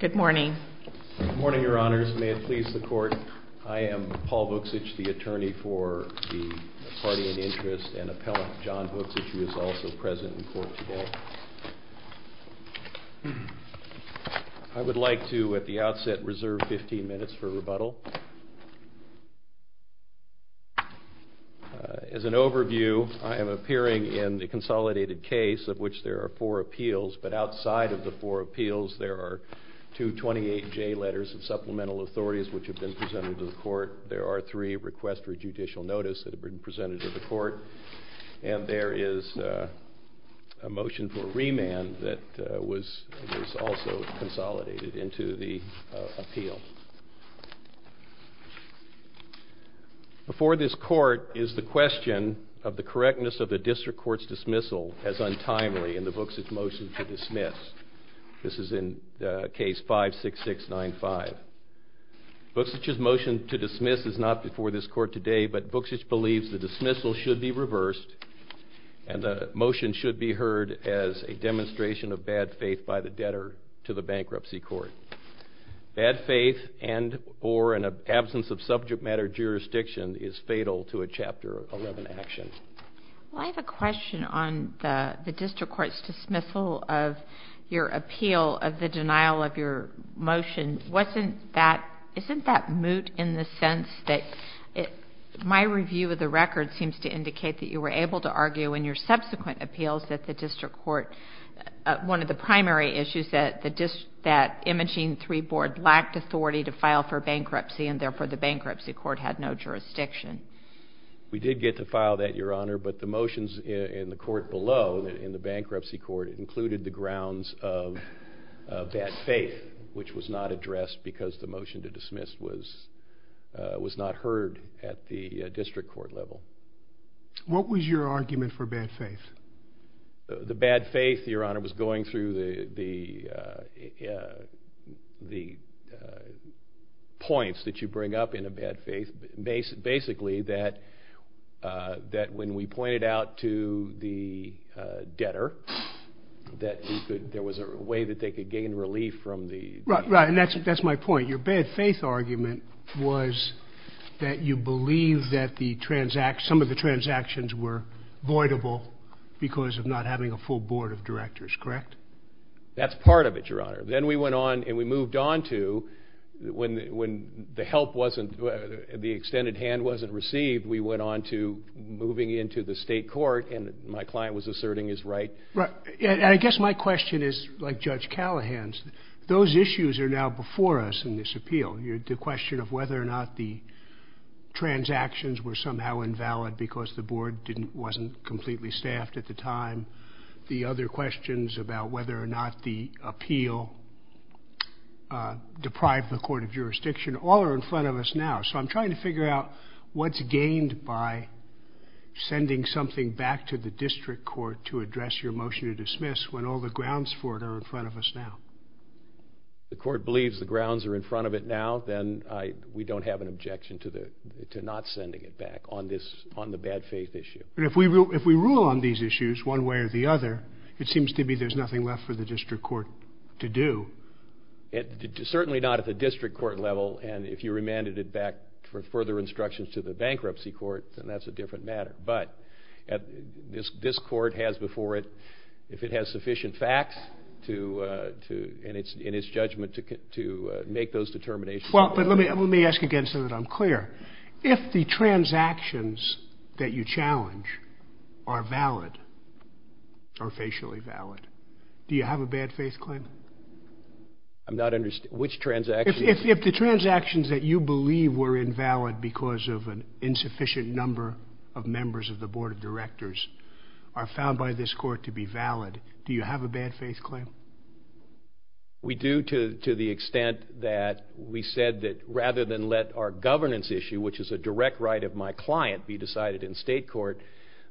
Good morning. Good morning, Your Honors. May it please the Court, I am Paul Vuksich, the attorney for the party in interest and appellant John Vuksich, who is also present in court today. I would like to, at the outset, reserve 15 minutes for rebuttal. As an overview, I am appearing in the consolidated case of which there are four appeals, but outside of the four appeals, there are two 28J letters of supplemental authorities which have been presented to the court. There are three requests for judicial notice that have been presented to the court, and there is a motion for remand that was also consolidated into the appeal. Before this court is the question of the correctness of the district court's dismissal as untimely in the Vuksich motion to dismiss. This is in Case 56695. Vuksich's motion to dismiss is not before this court today, but Vuksich believes the dismissal should be reversed, and the motion should be heard as a demonstration of bad faith by the debtor to the bankruptcy court. Bad faith and or an absence of subject matter jurisdiction is fatal to a Chapter 11 action. I have a question on the district court's dismissal of your appeal of the denial of your motion. Isn't that moot in the sense that my review of the record seems to indicate that you were able to argue in your subsequent appeals that the district court, one of the primary issues, that imaging three board lacked authority to file for bankruptcy, and therefore the bankruptcy court had no jurisdiction? We did get to file that, Your Honor, but the motions in the court below, in the bankruptcy court, included the grounds of bad faith, which was not addressed because the motion to dismiss was not heard at the district court level. What was your argument for bad faith? The bad faith, Your Honor, was going through the points that you bring up in a bad faith, basically that when we pointed out to the debtor that there was a way that they could gain relief from the… Right, and that's my point. Your bad faith argument was that you believe that some of the transactions were voidable because of not having a full board of directors, correct? That's part of it, Your Honor. Then we went on and we moved on to, when the help wasn't, the extended hand wasn't received, we went on to moving into the state court and my client was asserting his right. I guess my question is, like Judge Callahan's, those issues are now before us in this appeal. The question of whether or not the transactions were somehow invalid because the board wasn't completely staffed at the time, the other questions about whether or not the appeal deprived the court of jurisdiction, all are in front of us now. So I'm trying to figure out what's gained by sending something back to the district court to address your motion to dismiss when all the grounds for it are in front of us now. The court believes the grounds are in front of it now, then we don't have an objection to not sending it back on the bad faith issue. But if we rule on these issues one way or the other, it seems to me there's nothing left for the district court to do. Certainly not at the district court level and if you remanded it back for further instructions to the bankruptcy court, then that's a different matter. But this court has before it, if it has sufficient facts in its judgment to make those determinations. Let me ask again so that I'm clear. If the transactions that you challenge are valid or facially valid, do you have a bad faith claim? I'm not understanding. Which transactions? If the transactions that you believe were invalid because of an insufficient number of members of the board of directors are found by this court to be valid, do you have a bad faith claim? We do to the extent that we said that rather than let our governance issue, which is a direct right of my client, be decided in state court,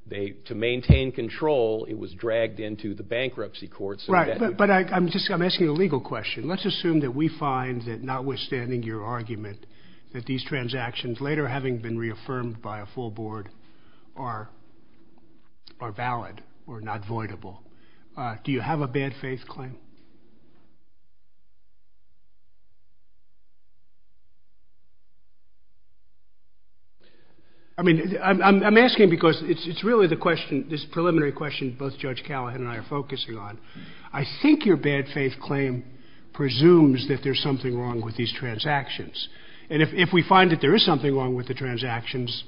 to maintain control it was dragged into the bankruptcy court. Right, but I'm asking a legal question. Let's assume that we find that notwithstanding your argument that these transactions later having been reaffirmed by a full board are valid or not voidable. Do you have a bad faith claim? I mean, I'm asking because it's really the question, this preliminary question both Judge Callahan and I are focusing on. I think your bad faith claim presumes that there's something wrong with these transactions. And if we find that there is something wrong with the transactions,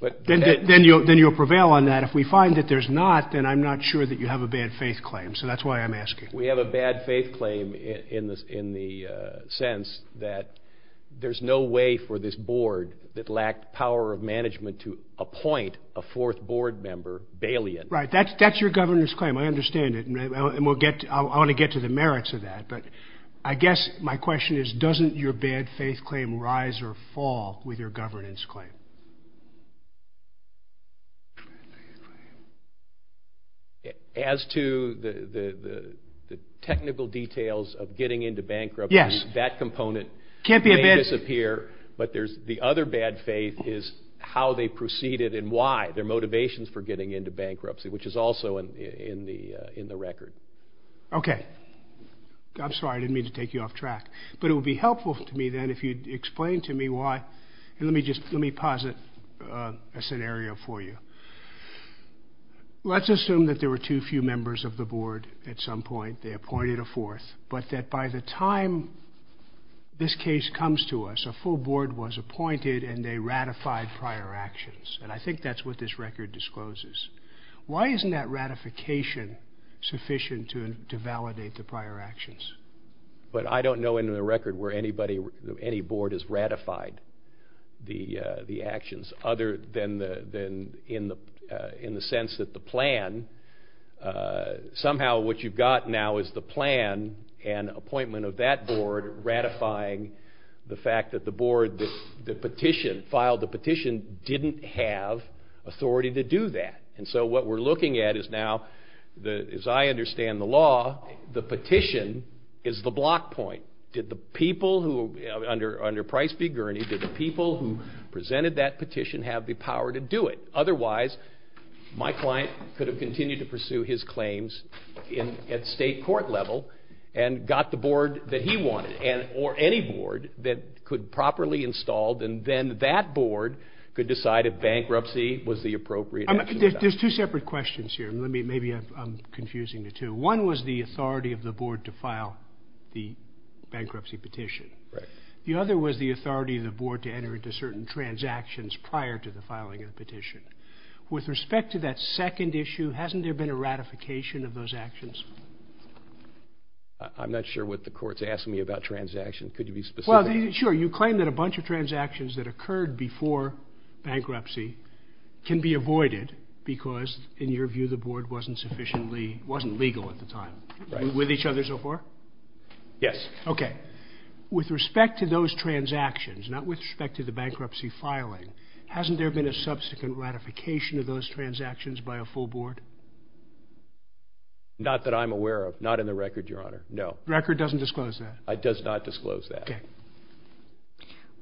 then you'll prevail on that. And if we find that there's not, then I'm not sure that you have a bad faith claim. So that's why I'm asking. We have a bad faith claim in the sense that there's no way for this board that lacked power of management to appoint a fourth board member, Bailey. Right, that's your governance claim. I understand it. And I want to get to the merits of that. But I guess my question is, doesn't your bad faith claim rise or fall with your governance claim? As to the technical details of getting into bankruptcy, that component may disappear. But the other bad faith is how they proceeded and why, their motivations for getting into bankruptcy, which is also in the record. Okay. I'm sorry, I didn't mean to take you off track. But it would be helpful to me then if you'd explain to me why. Let me just, let me posit a scenario for you. Let's assume that there were too few members of the board at some point. They appointed a fourth. But that by the time this case comes to us, a full board was appointed and they ratified prior actions. And I think that's what this record discloses. Why isn't that ratification sufficient to validate the prior actions? But I don't know in the record where anybody, any board has ratified the actions other than in the sense that the plan, somehow what you've got now is the plan and appointment of that board ratifying the fact that the board, the petition, filed the petition, didn't have authority to do that. And so what we're looking at is now, as I understand the law, the petition is the block point. Did the people who, under Price v. Gurney, did the people who presented that petition have the power to do it? Otherwise, my client could have continued to pursue his claims at state court level and got the board that he wanted, or any board that could properly install and then that board could decide if bankruptcy was the appropriate action. There's two separate questions here. Maybe I'm confusing the two. One was the authority of the board to file the bankruptcy petition. The other was the authority of the board to enter into certain transactions prior to the filing of the petition. With respect to that second issue, hasn't there been a ratification of those actions? I'm not sure what the court's asking me about transactions. Could you be specific? Sure. You claim that a bunch of transactions that occurred before bankruptcy can be avoided because, in your view, the board wasn't sufficiently, wasn't legal at the time. With each other so far? Yes. Okay. With respect to those transactions, not with respect to the bankruptcy filing, hasn't there been a subsequent ratification of those transactions by a full board? Not that I'm aware of. Not in the record, Your Honor. No. The record doesn't disclose that. It does not disclose that. Okay.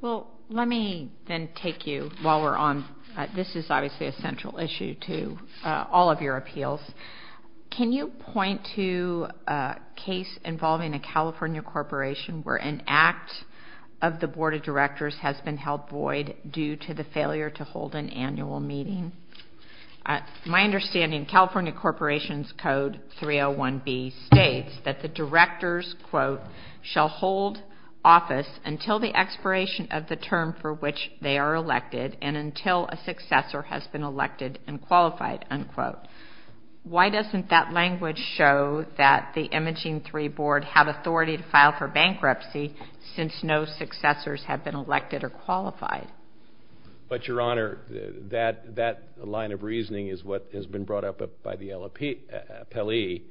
Well, let me then take you while we're on. This is obviously a central issue to all of your appeals. Can you point to a case involving a California corporation where an act of the board of directors has been held void due to the failure to hold an annual meeting? My understanding, California Corporations Code 301B states that the directors, quote, shall hold office until the expiration of the term for which they are elected and until a successor has been elected and qualified, unquote. Why doesn't that language show that the Imaging 3 board have authority to file for bankruptcy But, Your Honor, that line of reasoning is what has been brought up by the appellee.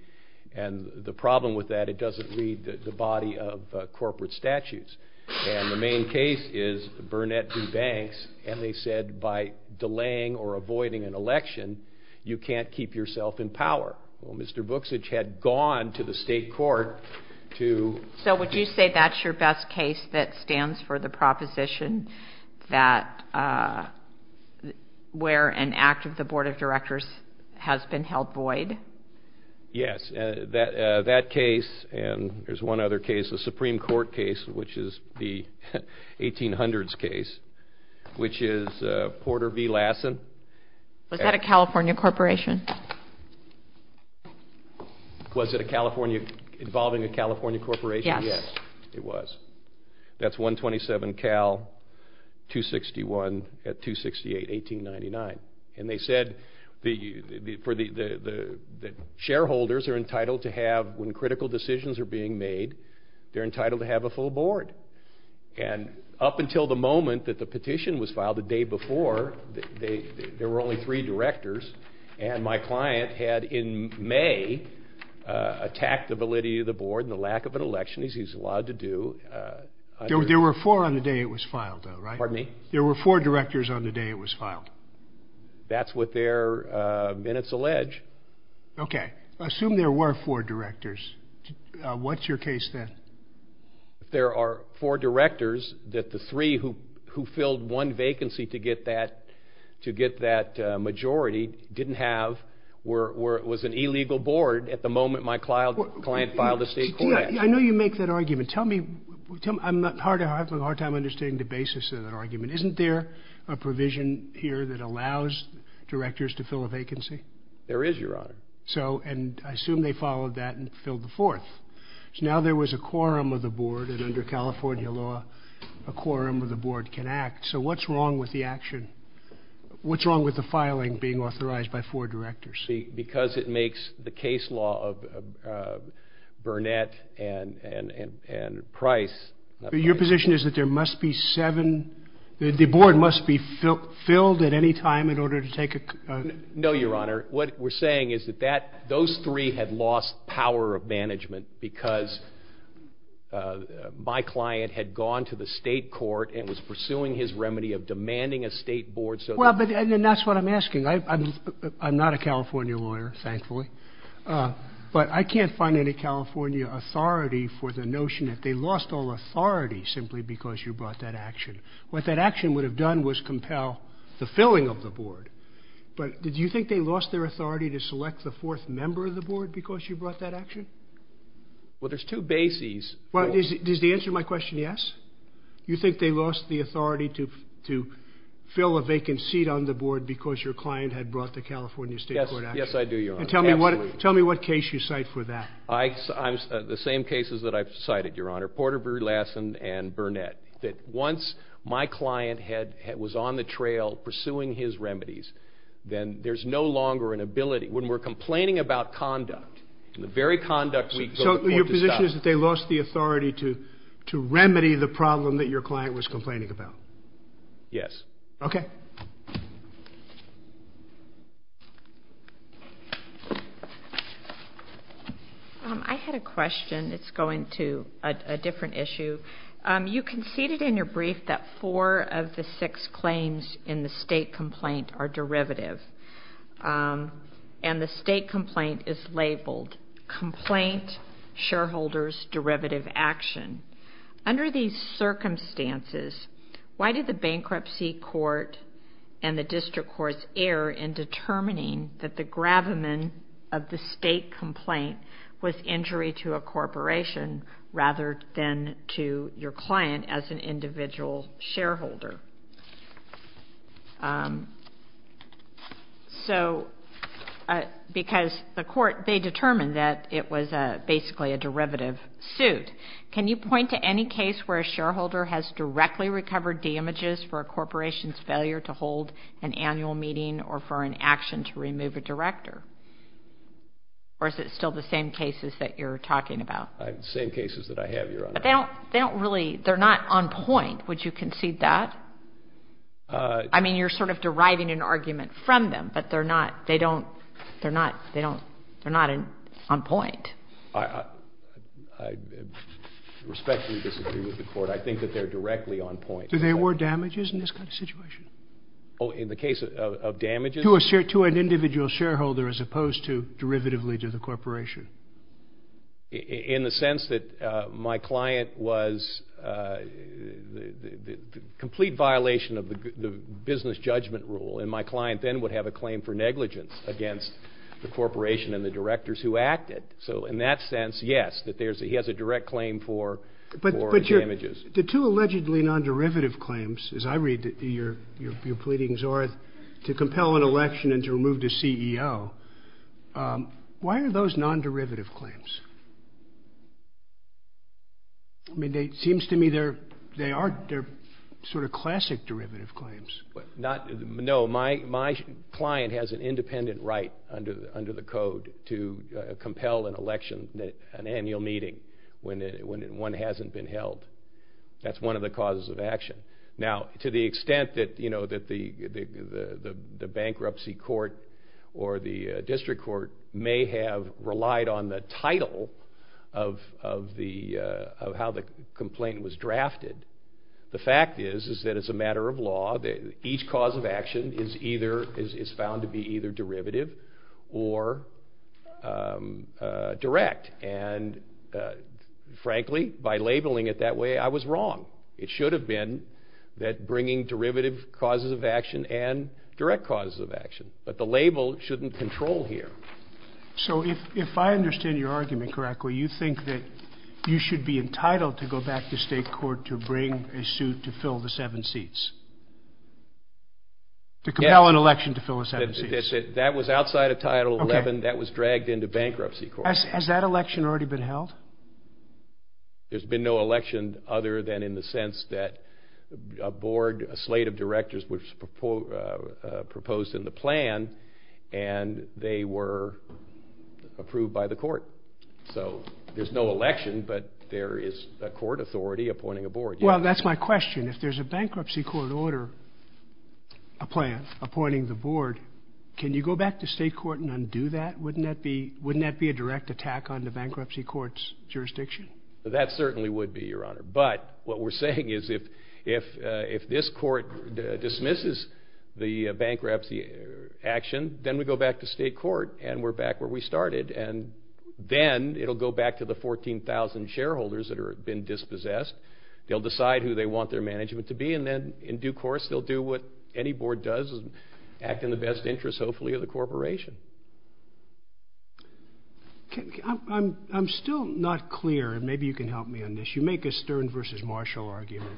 And the problem with that, it doesn't read the body of corporate statutes. And the main case is Burnett v. Banks, and they said by delaying or avoiding an election, you can't keep yourself in power. Well, Mr. Booksage had gone to the state court to So would you say that's your best case that stands for the proposition that where an act of the board of directors has been held void? Yes. That case, and there's one other case, the Supreme Court case, which is the 1800s case, which is Porter v. Lassen. Was that a California corporation? Was it involving a California corporation? Yes, it was. That's 127 Cal 261 at 268-1899. And they said that shareholders are entitled to have, when critical decisions are being made, they're entitled to have a full board. And up until the moment that the petition was filed, the day before, there were only three directors. And my client had, in May, attacked the validity of the board and the lack of an election, as he's allowed to do. There were four on the day it was filed, though, right? Pardon me? There were four directors on the day it was filed. That's what their minutes allege. Okay. Assume there were four directors. What's your case then? There are four directors that the three who filled one vacancy to get that majority didn't have, was an illegal board at the moment my client filed a state court action. I know you make that argument. I'm having a hard time understanding the basis of that argument. Isn't there a provision here that allows directors to fill a vacancy? There is, Your Honor. And I assume they followed that and filled the fourth. Now there was a quorum of the board, and under California law, a quorum of the board can act. So what's wrong with the action? What's wrong with the filing being authorized by four directors? Because it makes the case law of Burnett and Price. Your position is that there must be seven? The board must be filled at any time in order to take a quorum? No, Your Honor. What we're saying is that those three had lost power of management because my client had gone to the state court and was pursuing his remedy of demanding a state board. And that's what I'm asking. I'm not a California lawyer, thankfully, but I can't find any California authority for the notion that they lost all authority simply because you brought that action. What that action would have done was compel the filling of the board. But do you think they lost their authority to select the fourth member of the board because you brought that action? Well, there's two bases. Does the answer to my question yes? You think they lost the authority to fill a vacant seat on the board because your client had brought the California state board action? Yes, I do, Your Honor. Tell me what case you cite for that. The same cases that I've cited, Your Honor. That once my client was on the trail pursuing his remedies, then there's no longer an ability. When we're complaining about conduct, the very conduct we go to court to stop. So your position is that they lost the authority to remedy the problem that your client was complaining about? Yes. Okay. I had a question. It's going to a different issue. You conceded in your brief that four of the six claims in the state complaint are derivative. And the state complaint is labeled complaint, shareholders, derivative action. Under these circumstances, why did the bankruptcy court and the district courts err in determining that the gravamen of the state complaint was injury to a corporation rather than to your client as an individual shareholder? Because the court, they determined that it was basically a derivative suit. Can you point to any case where a shareholder has directly recovered damages for a corporation's failure to hold an annual meeting or for an action to remove a director? Or is it still the same cases that you're talking about? The same cases that I have, Your Honor. But they don't really, they're not on point. Would you concede that? I mean, you're sort of deriving an argument from them, but they're not, they don't, they're not, they're not on point. I respectfully disagree with the court. I think that they're directly on point. Do they award damages in this kind of situation? Oh, in the case of damages? To an individual shareholder as opposed to derivatively to the corporation. In the sense that my client was, complete violation of the business judgment rule. And my client then would have a claim for negligence against the corporation and the directors who acted. So in that sense, yes, he has a direct claim for damages. The two allegedly non-derivative claims, as I read your pleadings, are to compel an election and to remove the CEO. Why are those non-derivative claims? It seems to me they are sort of classic derivative claims. No, my client has an independent right under the code to compel an election, an annual meeting, when one hasn't been held. That's one of the causes of action. Now, to the extent that the bankruptcy court or the district court may have relied on the title of how the complaint was drafted, the fact is that it's a matter of law that each cause of action is found to be either derivative or direct. And frankly, by labeling it that way, I was wrong. It should have been that bringing derivative causes of action and direct causes of action. But the label shouldn't control here. So if I understand your argument correctly, you think that you should be entitled to go back to state court to bring a suit to fill the seven seats? To compel an election to fill the seven seats? That was outside of Title 11. That was dragged into bankruptcy court. Has that election already been held? There's been no election other than in the sense that a slate of directors was proposed in the plan, and they were approved by the court. So there's no election, but there is a court authority appointing a board. Well, that's my question. If there's a bankruptcy court order, a plan appointing the board, can you go back to state court and undo that? Wouldn't that be a direct attack on the bankruptcy court's jurisdiction? That certainly would be, Your Honor. But what we're saying is if this court dismisses the bankruptcy action, then we go back to state court, and we're back where we started. And then it'll go back to the 14,000 shareholders that have been dispossessed. They'll decide who they want their management to be, and then in due course, they'll do what any board does and act in the best interest, hopefully, of the corporation. I'm still not clear, and maybe you can help me on this. You make a Stern versus Marshall argument.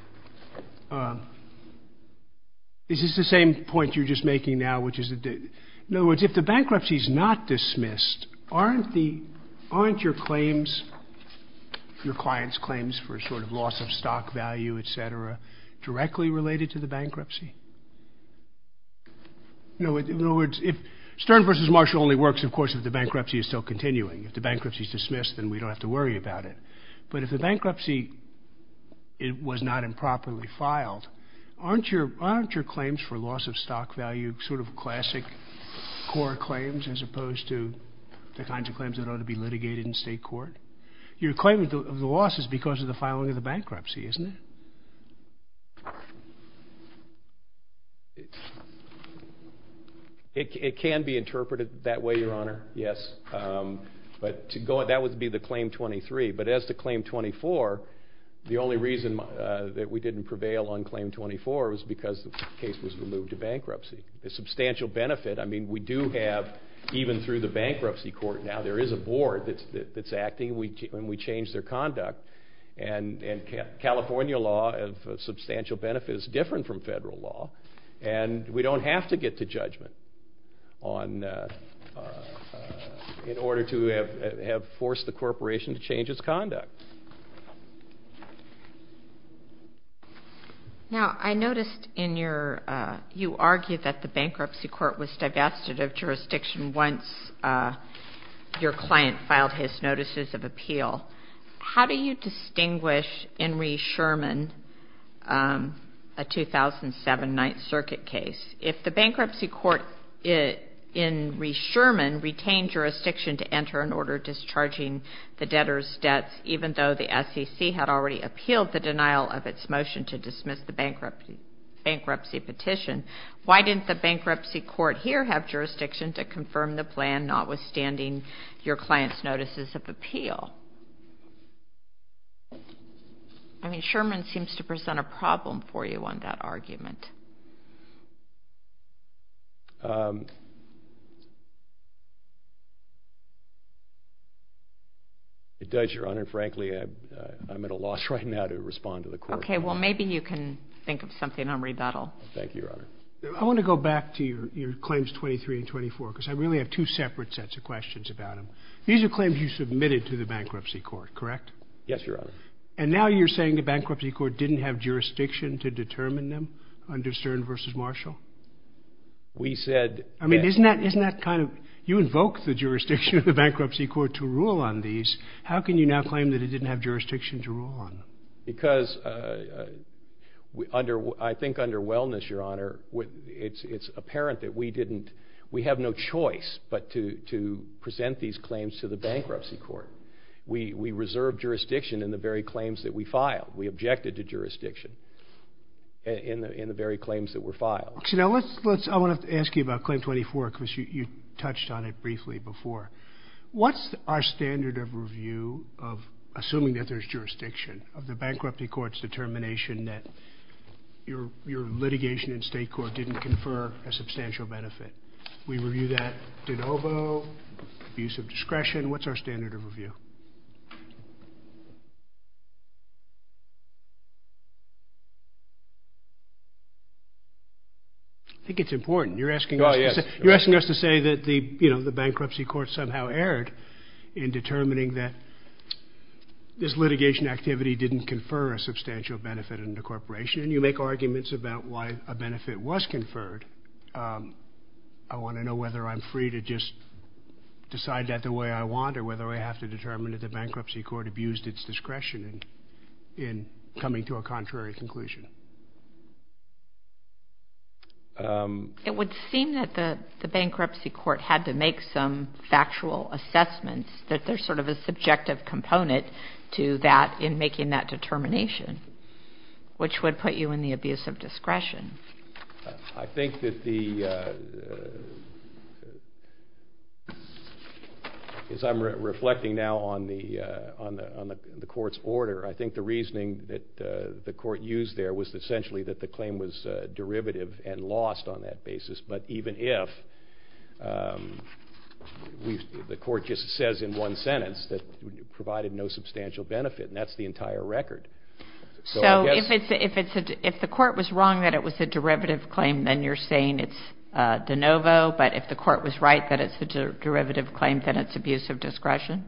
Is this the same point you're just making now, which is, in other words, if the bankruptcy is not dismissed, aren't your clients' claims for sort of loss of stock value, et cetera, directly related to the bankruptcy? In other words, if Stern versus Marshall only works, of course, if the bankruptcy is still continuing. If the bankruptcy is dismissed, then we don't have to worry about it. But if the bankruptcy was not improperly filed, aren't your claims for loss of stock value sort of classic core claims as opposed to the kinds of claims that ought to be litigated in state court? Your claim of the loss is because of the filing of the bankruptcy, isn't it? It can be interpreted that way, Your Honor, yes. But that would be the Claim 23. But as to Claim 24, the only reason that we didn't prevail on Claim 24 was because the case was removed to bankruptcy. The substantial benefit, I mean, we do have, even through the bankruptcy court now, there is a board that's acting, and we change their conduct. And California law of substantial benefit is different from federal law, and we don't have to get to judgment in order to have forced the corporation to change its conduct. Now, I noticed in your, you argued that the bankruptcy court was divested of jurisdiction once your client filed his notices of appeal. How do you distinguish in Reese-Sherman a 2007 Ninth Circuit case? If the bankruptcy court in Reese-Sherman retained jurisdiction to enter an order discharging the debtor's debts, even though the SEC had already appealed the denial of its motion to dismiss the bankruptcy petition, why didn't the bankruptcy court here have jurisdiction to confirm the plan notwithstanding your client's notices of appeal? I mean, Sherman seems to present a problem for you on that argument. It does, Your Honor. Frankly, I'm at a loss right now to respond to the court. Okay, well, maybe you can think of something on rebuttal. Thank you, Your Honor. I want to go back to your claims 23 and 24, because I really have two separate sets of questions about them. These are claims you submitted to the bankruptcy court, correct? Yes, Your Honor. And now you're saying the bankruptcy court didn't have jurisdiction to determine them under Stern v. Marshall? We said that — I mean, isn't that kind of — you invoked the jurisdiction of the bankruptcy court to rule on these. How can you now claim that it didn't have jurisdiction to rule on them? Because I think under Wellness, Your Honor, it's apparent that we have no choice but to present these claims to the bankruptcy court. We reserved jurisdiction in the very claims that we filed. We objected to jurisdiction in the very claims that were filed. I want to ask you about claim 24, because you touched on it briefly before. What's our standard of review of — assuming that there's jurisdiction of the bankruptcy court's determination that your litigation in state court didn't confer a substantial benefit? We review that de novo, abuse of discretion. What's our standard of review? I think it's important. You're asking us to say that the bankruptcy court somehow erred in determining that this litigation activity didn't confer a substantial benefit under corporation. You make arguments about why a benefit was conferred. I want to know whether I'm free to just decide that the way I want or whether I have to determine that the bankruptcy court abused its discretion in coming to a contrary conclusion. It would seem that the bankruptcy court had to make some factual assessments, that there's sort of a subjective component to that in making that determination, which would put you in the abuse of discretion. I think that the — as I'm reflecting now on the court's order, I think the reasoning that the court used there was essentially that the claim was derivative and lost on that basis. But even if — the court just says in one sentence that it provided no substantial benefit, and that's the entire record. So if the court was wrong that it was a derivative claim, then you're saying it's de novo. But if the court was right that it's a derivative claim, then it's abuse of discretion?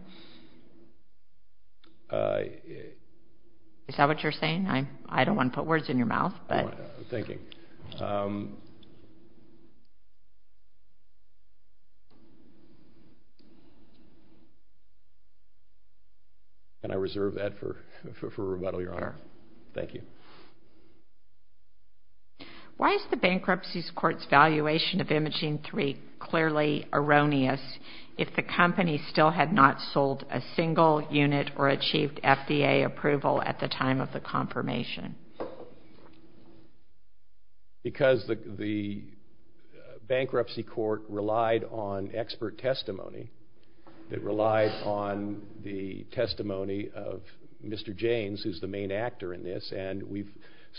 Is that what you're saying? I don't want to put words in your mouth. Thank you. Can I reserve that for rebuttal, Your Honor? Sure. Thank you. Why is the Bankruptcy Court's valuation of Imaging 3 clearly erroneous if the company still had not sold a single unit or achieved FDA approval at the time of the confirmation? Because the Bankruptcy Court relied on expert testimony. It relies on the testimony of Mr. James, who's the main actor in this. And we've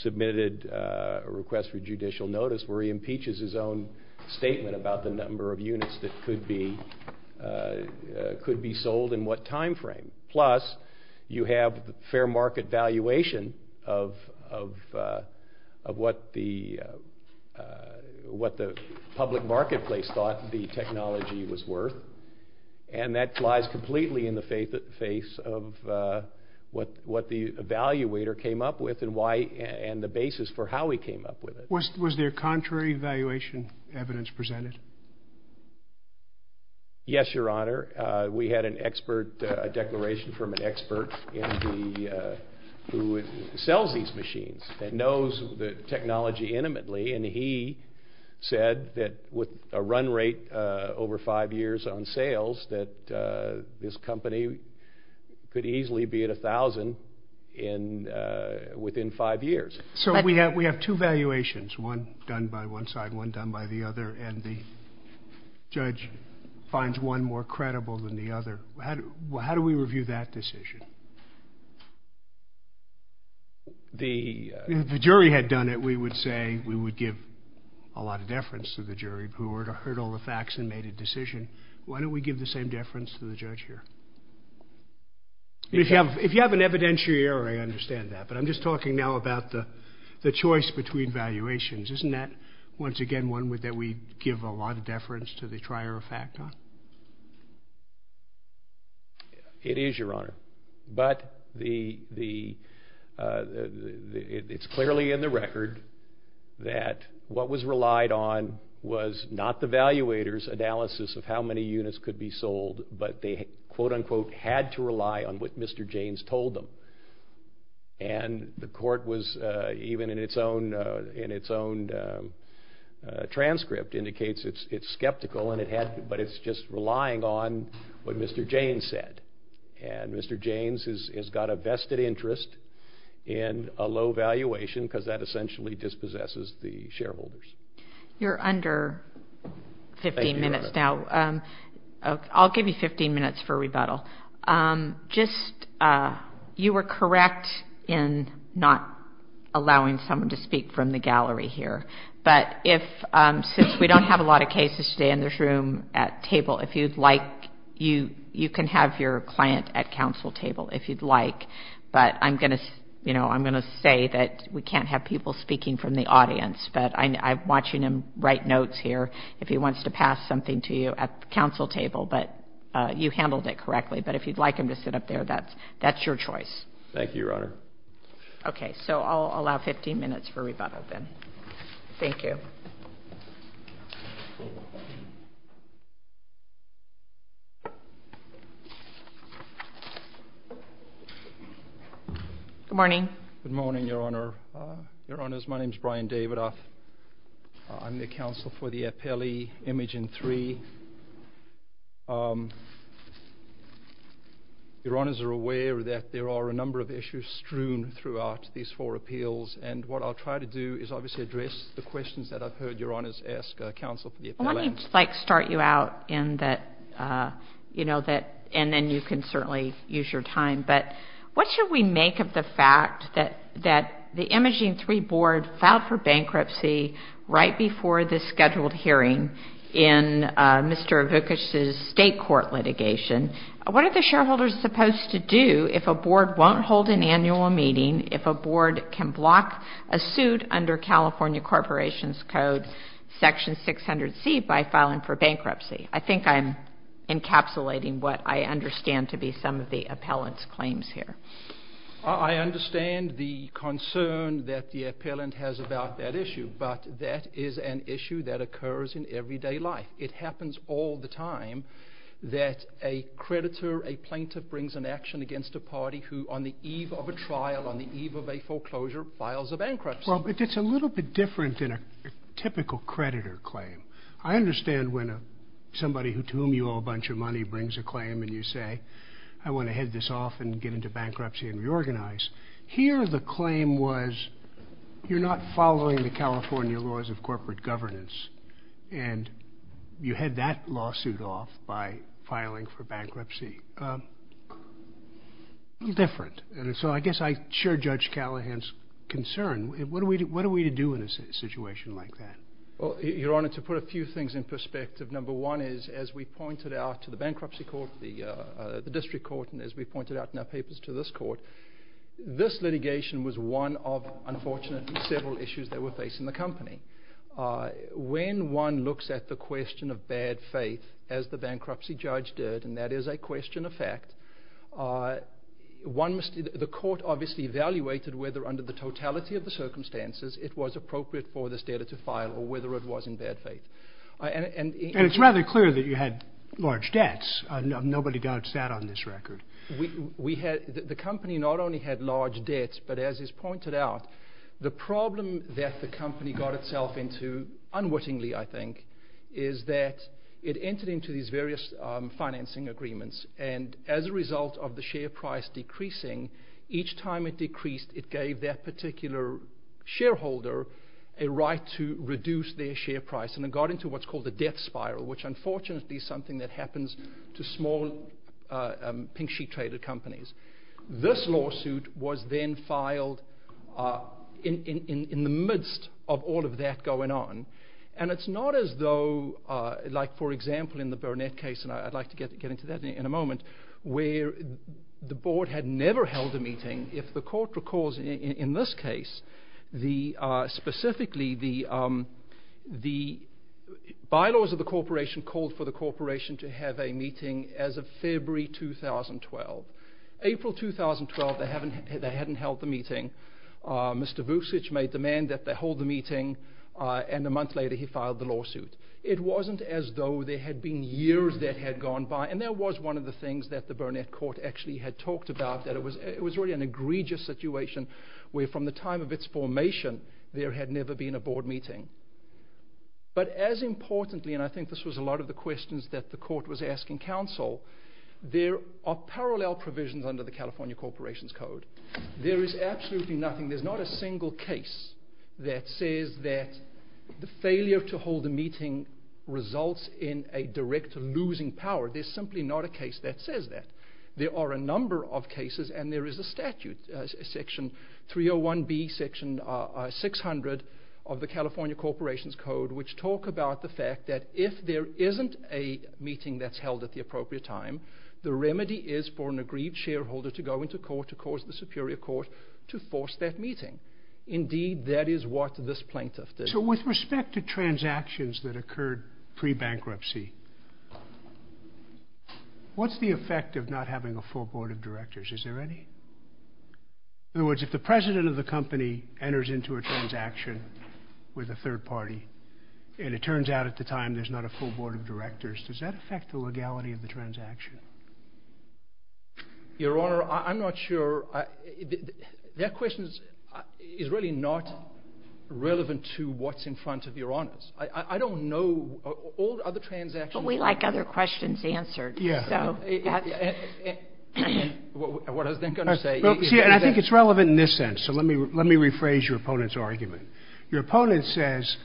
submitted a request for judicial notice where he impeaches his own statement about the number of units that could be sold in what time frame. Plus, you have fair market valuation of what the public marketplace thought the technology was worth. And that lies completely in the face of what the evaluator came up with and the basis for how he came up with it. Was there contrary valuation evidence presented? Yes, Your Honor. We had an expert declaration from an expert who sells these machines and knows the technology intimately. And he said that with a run rate over five years on sales, that this company could easily be at $1,000 within five years. So we have two valuations, one done by one side, one done by the other, and the judge finds one more credible than the other. How do we review that decision? The jury had done it. We would say we would give a lot of deference to the jury who heard all the facts and made a decision. Why don't we give the same deference to the judge here? If you have an evidentiary, I understand that. But I'm just talking now about the choice between valuations. Isn't that, once again, one that we give a lot of deference to the trier factor? It is, Your Honor. But it's clearly in the record that what was relied on was not the evaluator's analysis of how many units could be sold, but they, quote, unquote, had to rely on what Mr. James told them. And the court was, even in its own transcript, indicates it's skeptical, but it's just relying on what Mr. James said. And Mr. James has got a vested interest in a low valuation because that essentially dispossesses the shareholders. You're under 15 minutes now. Thank you, Your Honor. I'll give you 15 minutes for rebuttal. Just, you were correct in not allowing someone to speak from the gallery here. But since we don't have a lot of cases today in this room at table, if you'd like, you can have your client at counsel table, if you'd like. But I'm going to say that we can't have people speaking from the audience. But I'm watching him write notes here if he wants to pass something to you at the counsel table. But you handled it correctly. But if you'd like him to sit up there, that's your choice. Thank you, Your Honor. Okay. So I'll allow 15 minutes for rebuttal then. Thank you. Good morning. Good morning, Your Honor. Your Honors, my name is Brian David. I'm the counsel for the appellee, Imogen III. Your Honors are aware that there are a number of issues strewn throughout these four appeals. And what I'll try to do is obviously address the questions that I've heard Your Honors ask counsel for the appellee. Let me start you out in that, you know, and then you can certainly use your time. But what should we make of the fact that the Imogen III board filed for bankruptcy right before the scheduled hearing in Mr. Vukic's state court litigation? What are the shareholders supposed to do if a board won't hold an annual meeting, if a board can block a suit under California Corporations Code Section 600C by filing for bankruptcy? I think I'm encapsulating what I understand to be some of the appellant's claims here. I understand the concern that the appellant has about that issue, but that is an issue that occurs in everyday life. It happens all the time that a creditor, a plaintiff brings an action against a party who on the eve of a trial, on the eve of a foreclosure, files a bankruptcy. Well, but it's a little bit different than a typical creditor claim. I understand when somebody to whom you owe a bunch of money brings a claim and you say, I want to head this off and get into bankruptcy and reorganize. Here the claim was, you're not following the California laws of corporate governance, and you head that lawsuit off by filing for bankruptcy. Different. So I guess I share Judge Callahan's concern. What are we to do in a situation like that? Your Honor, to put a few things in perspective, number one is, as we pointed out to the bankruptcy court, the district court, and as we pointed out in our papers to this court, this litigation was one of, unfortunately, several issues that were facing the company. When one looks at the question of bad faith, as the bankruptcy judge did, and that is a question of fact, the court obviously evaluated whether, under the totality of the circumstances, it was appropriate for this debtor to file or whether it was in bad faith. And it's rather clear that you had large debts. Nobody doubts that on this record. The company not only had large debts, but as is pointed out, the problem that the company got itself into, unwittingly, I think, is that it entered into these various financing agreements. And as a result of the share price decreasing, each time it decreased, it gave that particular shareholder a right to reduce their share price. And it got into what's called the debt spiral, which unfortunately is something that happens to small pink sheet trader companies. This lawsuit was then filed in the midst of all of that going on. And it's not as though, like, for example, in the Burnett case, and I'd like to get into that in a moment, where the board had never held a meeting. If the court recalls in this case, specifically, the bylaws of the corporation called for the corporation to have a meeting as of February 2012. April 2012, they hadn't held the meeting. Mr. Vucic made the demand that they hold the meeting. And a month later, he filed the lawsuit. It wasn't as though there had been years that had gone by. And that was one of the things that the Burnett court actually had talked about, that it was really an egregious situation where from the time of its formation, there had never been a board meeting. But as importantly, and I think this was a lot of the questions that the court was asking counsel, there are parallel provisions under the California Corporations Code. There is absolutely nothing. There's not a single case that says that the failure to hold a meeting results in a direct losing power. There's simply not a case that says that. There are a number of cases, and there is a statute, Section 301B, Section 600 of the California Corporations Code, which talk about the fact that if there isn't a meeting that's held at the appropriate time, the remedy is for an agreed shareholder to go into court to cause the superior court to force that meeting. Indeed, that is what this plaintiff did. So with respect to transactions that occurred pre-bankruptcy, what's the effect of not having a full board of directors? Is there any? In other words, if the president of the company enters into a transaction with a third party, and it turns out at the time there's not a full board of directors, does that affect the legality of the transaction? Your Honor, I'm not sure. That question is really not relevant to what's in front of Your Honors. I don't know. All other transactions... But we like other questions answered. Yeah. And what I think I'm going to say... See, and I think it's relevant in this sense. So let me rephrase your opponent's argument. Your opponent says,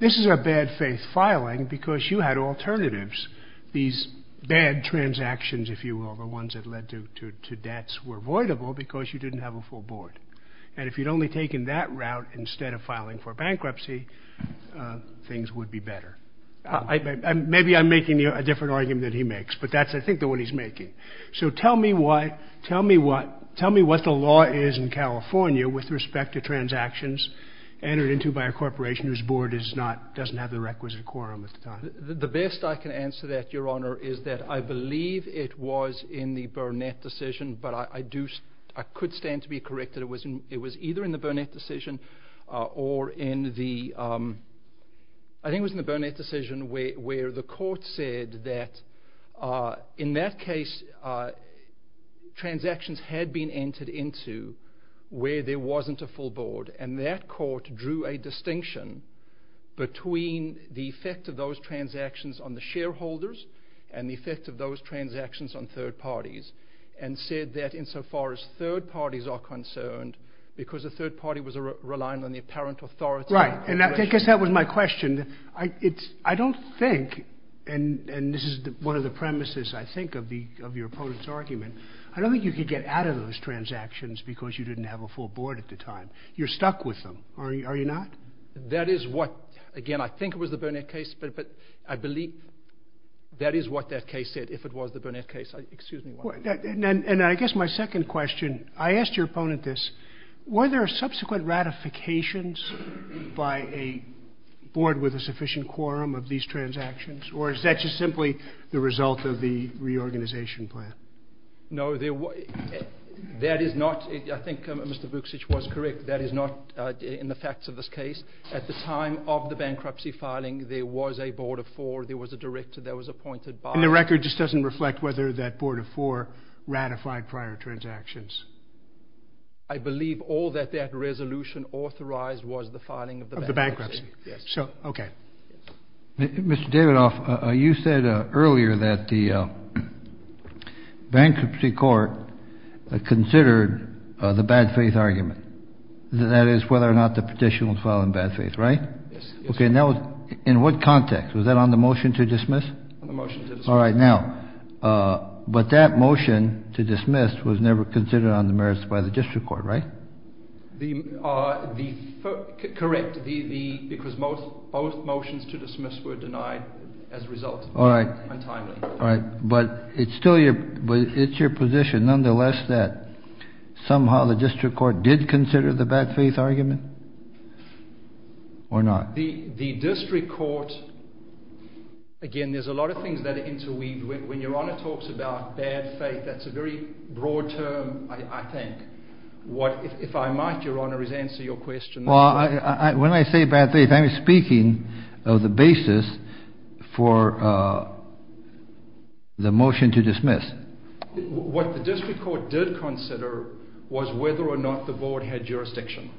this is a bad faith filing because you had alternatives. These bad transactions, if you will, the ones that led to debts, were avoidable because you didn't have a full board. And if you'd only taken that route instead of filing for bankruptcy, things would be better. Maybe I'm making a different argument than he makes, but that's, I think, the one he's making. So tell me what the law is in California with respect to transactions entered into by a corporation whose board doesn't have the requisite quorum. The best I can answer that, Your Honor, is that I believe it was in the Burnett decision, but I could stand to be corrected. It was either in the Burnett decision or in the... I think it was in the Burnett decision where the court said that in that case, transactions had been entered into where there wasn't a full board, and that court drew a distinction between the effect of those transactions on the shareholders and the effect of those transactions on third parties and said that insofar as third parties are concerned, because the third party was relying on the apparent authority... Right, and I guess that was my question. I don't think, and this is one of the premises, I think, of your opponent's argument, I don't think you could get out of those transactions because you didn't have a full board at the time. You're stuck with them, are you not? That is what, again, I think it was the Burnett case, but I believe that is what that case said, if it was the Burnett case. And I guess my second question, I asked your opponent this. Were there subsequent ratifications by a board with a sufficient quorum of these transactions, or is that just simply the result of the reorganization plan? No, there was... That is not, I think Mr Bruksic was correct, that is not in the facts of this case. At the time of the bankruptcy filing, there was a board of four, there was a director, there was appointed by... And the record just doesn't reflect whether that board of four ratified prior transactions? I believe all that that resolution authorized was the filing of the bankruptcy. Of the bankruptcy. Yes. Okay. Mr Davidoff, you said earlier that the bankruptcy court considered the bad faith argument, that is, whether or not the petition was filed in bad faith, right? Yes. Okay, and that was in what context? Was that on the motion to dismiss? On the motion to dismiss. All right, now, but that motion to dismiss was never considered on the merits by the district court, right? Correct, because both motions to dismiss were denied as a result. All right. Untimely. All right, but it's still your position, nonetheless, that somehow the district court did consider the bad faith argument, or not? The district court, again, there's a lot of things that interweave. When Your Honor talks about bad faith, that's a very broad term, I think. If I might, Your Honor, is answer your question. Well, when I say bad faith, I'm speaking of the basis for the motion to dismiss. What the district court did consider was whether or not the board had jurisdiction.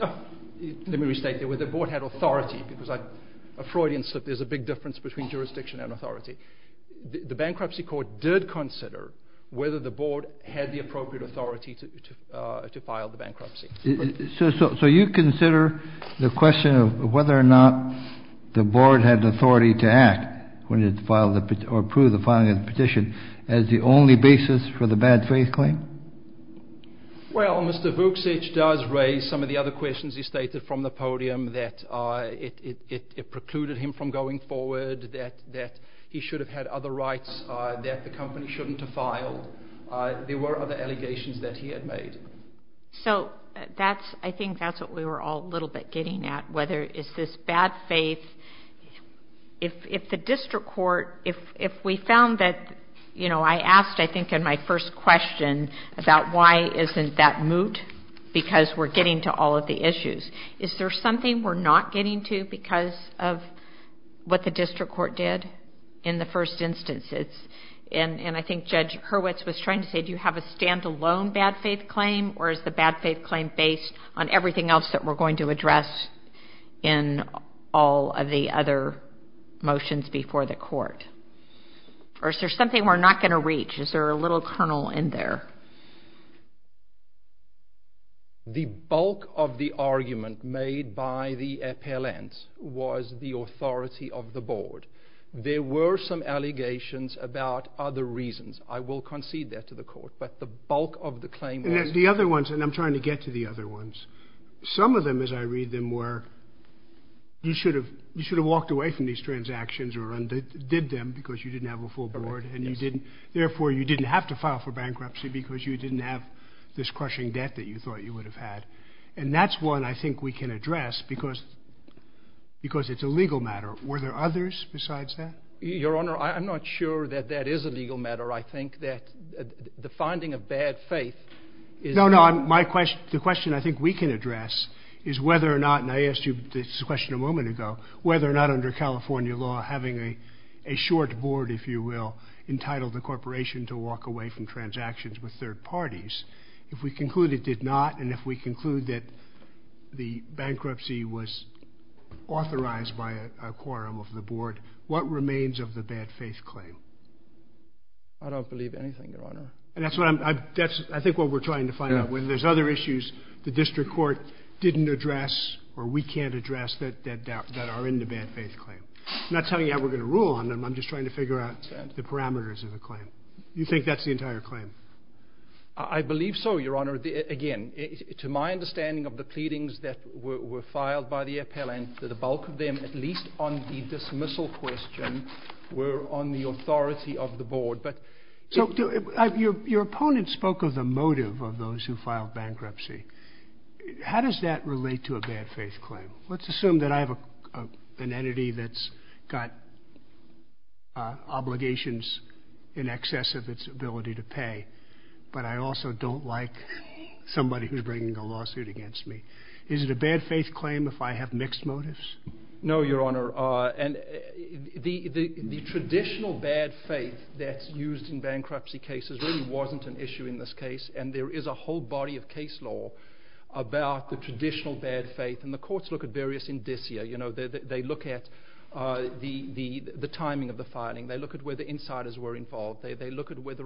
Let me restate that, whether the board had authority, because Freudian said there's a big difference between jurisdiction and authority. The bankruptcy court did consider whether the board had the appropriate authority to file the bankruptcy. So you consider the question of whether or not the board had the authority to act when it approved the filing of the petition as the only basis for the bad faith claim? Well, Mr. Vuksic does raise some of the other questions he stated from the podium, that it precluded him from going forward, that he should have had other rights that the company shouldn't have filed. There were other allegations that he had made. So I think that's what we were all a little bit getting at, whether it's this bad faith. If the district court, if we found that, you know, I asked, I think, in my first question, about why isn't that moot, because we're getting to all of the issues. Is there something we're not getting to because of what the district court did in the first instance? And I think Judge Hurwitz was trying to say, do you have a stand-alone bad faith claim, or is the bad faith claim based on everything else that we're going to address in all of the other motions before the court? Or is there something we're not going to reach? Is there a little kernel in there? Well, the bulk of the argument made by the appellants was the authority of the board. There were some allegations about other reasons. I will concede that to the court. But the bulk of the claim was… The other ones, and I'm trying to get to the other ones. Some of them, as I read them, were you should have walked away from these transactions or undid them because you didn't have a full board, and therefore you didn't have to file for bankruptcy because you didn't have this crushing debt that you thought you would have had. And that's one I think we can address because it's a legal matter. Were there others besides that? Your Honor, I'm not sure that that is a legal matter. I think that the finding of bad faith is… No, no, the question I think we can address is whether or not, and I asked you this question a moment ago, whether or not under California law having a short board, if you will, entitled the corporation to walk away from transactions with third parties. If we conclude it did not, and if we conclude that the bankruptcy was authorized by a quorum of the board, what remains of the bad faith claim? I don't believe anything, Your Honor. And that's what I'm… I think what we're trying to find out, whether there's other issues the district court didn't address or we can't address that are in the bad faith claim. I'm not telling you how we're going to rule on them. I'm just trying to figure out the parameters of the claim. You think that's the entire claim? I believe so, Your Honor. Again, to my understanding of the pleadings that were filed by the appellant, the bulk of them, at least on the dismissal question, were on the authority of the board. Your opponent spoke of the motive of those who filed bankruptcy. How does that relate to a bad faith claim? Let's assume that I have an entity that's got obligations in excess of its ability to pay, but I also don't like somebody who's bringing a lawsuit against me. Is it a bad faith claim if I have mixed motives? No, Your Honor. The traditional bad faith that's used in bankruptcy cases really wasn't an issue in this case, and there is a whole body of case law about the traditional bad faith, and the courts look at various indicia. They look at the timing of the filing. They look at where the insiders were involved. They look at whether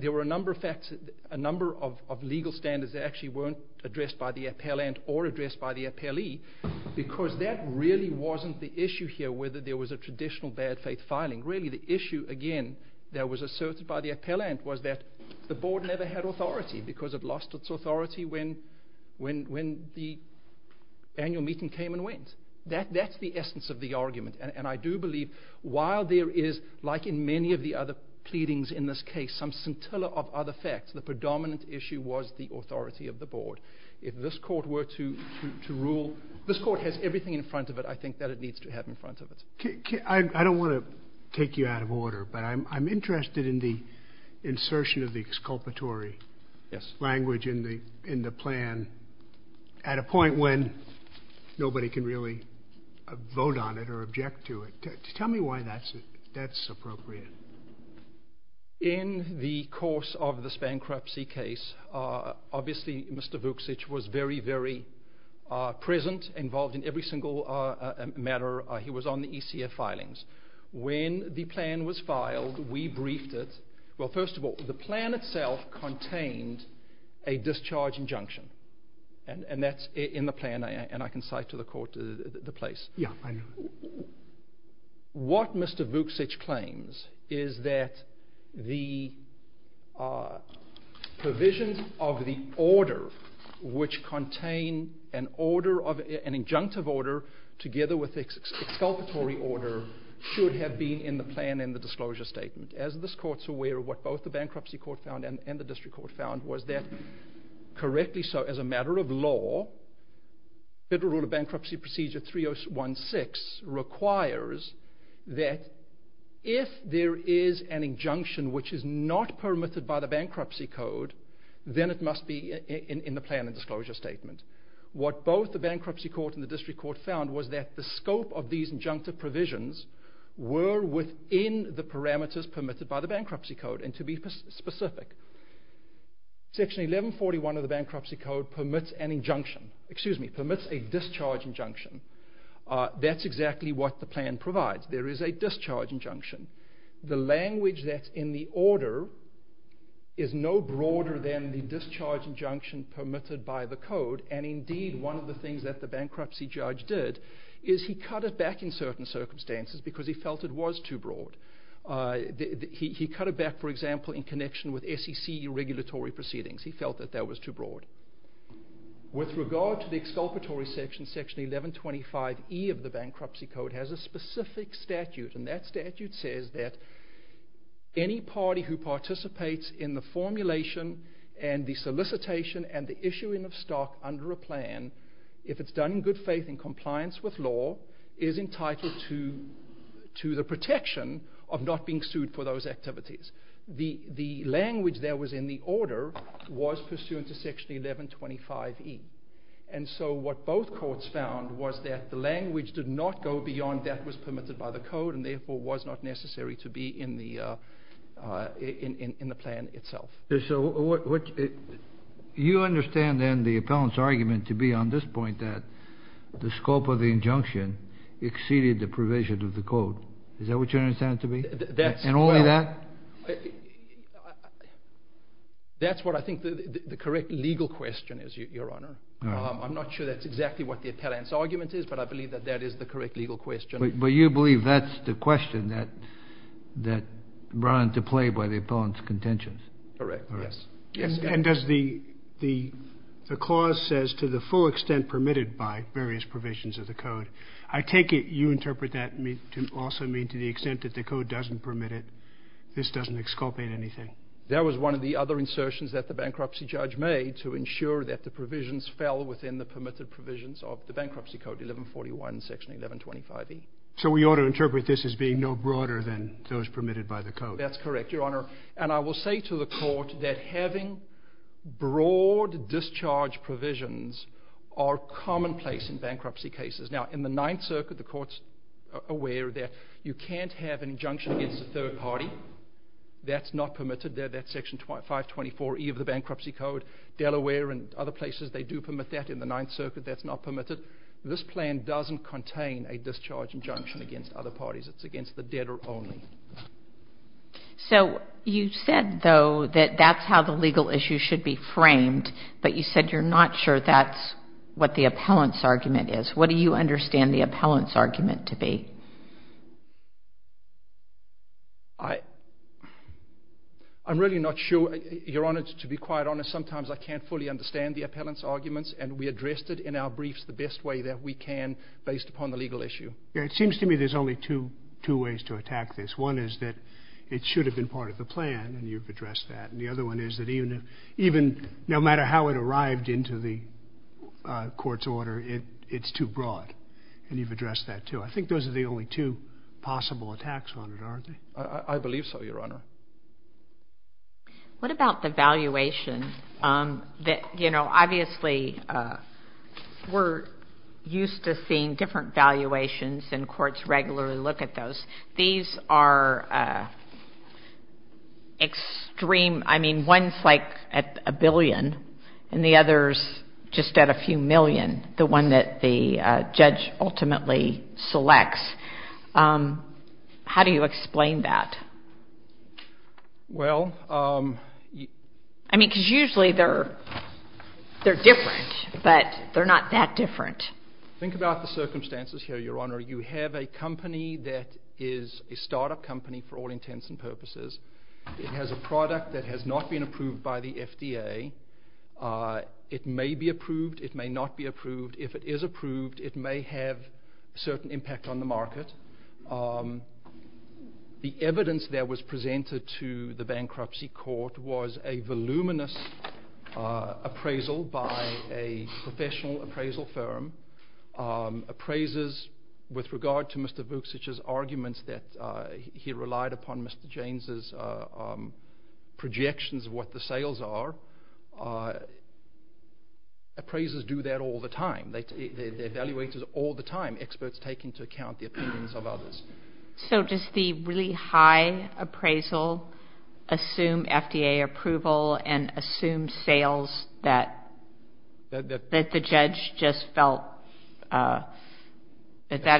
there were a number of facts, a number of legal standards that actually weren't addressed by the appellant or addressed by the appellee because that really wasn't the issue here, whether there was a traditional bad faith filing. Really, the issue, again, that was asserted by the appellant was that the board never had authority because it lost its authority when the annual meeting came and went. That's the essence of the argument, and I do believe while there is, like in many of the other pleadings in this case, some scintilla of other facts, the predominant issue was the authority of the board. If this court were to rule, this court has everything in front of it, I think, that it needs to have in front of it. I don't want to take you out of order, but I'm interested in the insertion of the exculpatory language in the plan at a point when nobody can really vote on it or object to it. Tell me why that's appropriate. In the course of this bankruptcy case, obviously Mr. Vucic was very, very present, involved in every single matter. He was on the ECF filings. When the plan was filed, we briefed it. Well, first of all, the plan itself contained a discharge injunction, and that's in the plan, and I can cite to the court the place. Yeah, I know. What Mr. Vucic claims is that the provisions of the order, which contain an injunctive order together with the exculpatory order, should have been in the plan in the disclosure statement. As this court's aware, what both the bankruptcy court found and the district court found was that, correctly so, as a matter of law, Federal Rule of Bankruptcy Procedure 3016 requires that if there is an injunction which is not permitted by the bankruptcy code, then it must be in the plan in the disclosure statement. What both the bankruptcy court and the district court found was that the scope of these injunctive provisions were within the parameters permitted by the bankruptcy code, and to be specific. Section 1141 of the bankruptcy code permits an injunction – excuse me, permits a discharge injunction. That's exactly what the plan provides. There is a discharge injunction. The language that's in the order is no broader than the discharge injunction permitted by the code, and indeed one of the things that the bankruptcy judge did is he cut it back in certain circumstances because he felt it was too broad. He cut it back, for example, in connection with SEC regulatory proceedings. He felt that that was too broad. With regard to the exculpatory section, Section 1125E of the bankruptcy code has a specific statute, and that statute says that any party who participates in the formulation and the solicitation and the issuing of stock under a plan, if it's done in good faith and compliance with law, is entitled to the protection of not being sued for those activities. The language that was in the order was pursuant to Section 1125E, and so what both courts found was that the language did not go beyond that was permitted by the code and therefore was not necessary to be in the plan itself. You understand then the appellant's argument to be on this point that the scope of the injunction exceeded the provision of the code. Is that what you understand it to be? And only that? That's what I think the correct legal question is, Your Honor. I'm not sure that's exactly what the appellant's argument is, but I believe that that is the correct legal question. But you believe that's the question that brought into play by the appellant's contentions? Correct, yes. And does the clause says to the full extent permitted by various provisions of the code, I take it you interpret that to also mean to the extent that the code doesn't permit it, this doesn't exculpate anything? That was one of the other insertions that the bankruptcy judge made to ensure that the provisions fell within the permitted provisions of the bankruptcy code, 1141, Section 1125E. So we ought to interpret this as being no broader than those permitted by the code? That's correct, Your Honor. And I will say to the court that having broad discharge provisions are commonplace in bankruptcy cases. Now, in the Ninth Circuit, the court's aware that you can't have injunction against a third party. That's not permitted. That's Section 524E of the bankruptcy code. Delaware and other places, they do permit that. In the Ninth Circuit, that's not permitted. This plan doesn't contain a discharge injunction against other parties. It's against the debtor only. So you said, though, that that's how the legal issue should be framed, but you said you're not sure that's what the appellant's argument is. What do you understand the appellant's argument to be? I'm really not sure. Your Honor, to be quite honest, sometimes I can't fully understand the appellant's arguments, and we addressed it in our briefs the best way that we can based upon the legal issue. It seems to me there's only two ways to attack this. One is that it should have been part of the plan, and you've addressed that. And the other one is that even no matter how it arrived into the court's order, it's too broad, and you've addressed that, too. I think those are the only two possible attacks on it, aren't they? I believe so, Your Honor. What about the valuation? Obviously, we're used to seeing different valuations, and courts regularly look at those. These are extreme. I mean, one's like at a billion, and the other's just at a few million, the one that the judge ultimately selects. How do you explain that? Well... I mean, because usually they're different, but they're not that different. Think about the circumstances here, Your Honor. You have a company that is a startup company for all intents and purposes. It has a product that has not been approved by the FDA. It may be approved. It may not be approved. If it is approved, it may have a certain impact on the market. The evidence that was presented to the bankruptcy court was a voluminous appraisal by a professional appraisal firm. Appraisers, with regard to Mr. Vilksich's arguments that he relied upon Mr. James's projections of what the sales are, appraisers do that all the time. They evaluate it all the time, experts taking into account the opinions of others. So does the really high appraisal assume FDA approval and assume sales that the judge just felt that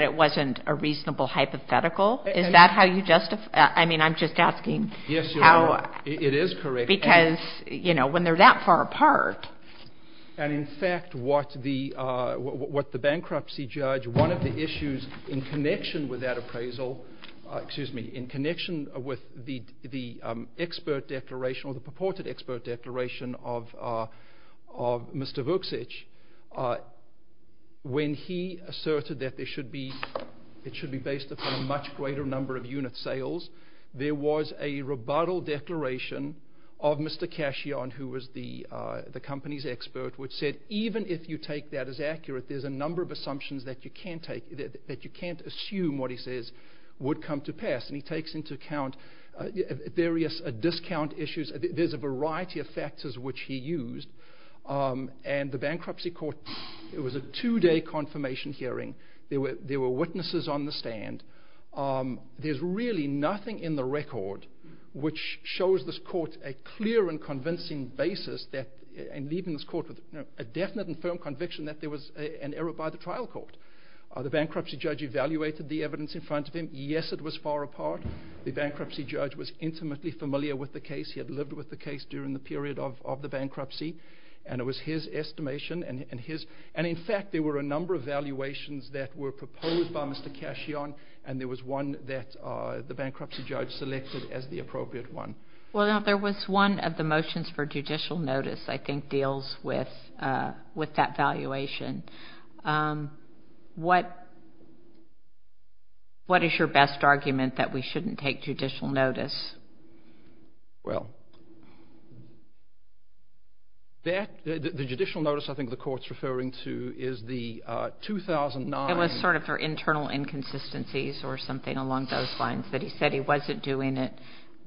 it wasn't a reasonable hypothetical? Is that how you justify... I mean, I'm just asking how... Yes, Your Honor, it is correct. Because, you know, when they're that far apart... And, in fact, what the bankruptcy judge, one of the issues in connection with that appraisal... Excuse me, in connection with the expert declaration or the purported expert declaration of Mr. Vilksich, when he asserted that it should be based upon a much greater number of unit sales, there was a rebuttal declaration of Mr. Cashion, who was the company's expert, which said, even if you take that as accurate, there's a number of assumptions that you can't assume what he says would come to pass. And he takes into account various discount issues. There's a variety of factors which he used. And the bankruptcy court, it was a two-day confirmation hearing. There were witnesses on the stand. There's really nothing in the record which shows this court a clear and convincing basis in leaving this court with a definite and firm conviction that there was an error by the trial court. The bankruptcy judge evaluated the evidence in front of him. Yes, it was far apart. The bankruptcy judge was intimately familiar with the case. He had lived with the case during the period of the bankruptcy. And it was his estimation and his... And there was one that the bankruptcy judge selected as the appropriate one. Well, there was one of the motions for judicial notice, I think, deals with that valuation. What is your best argument that we shouldn't take judicial notice? Well, the judicial notice I think the court's referring to is the 2009... But he said he wasn't doing it.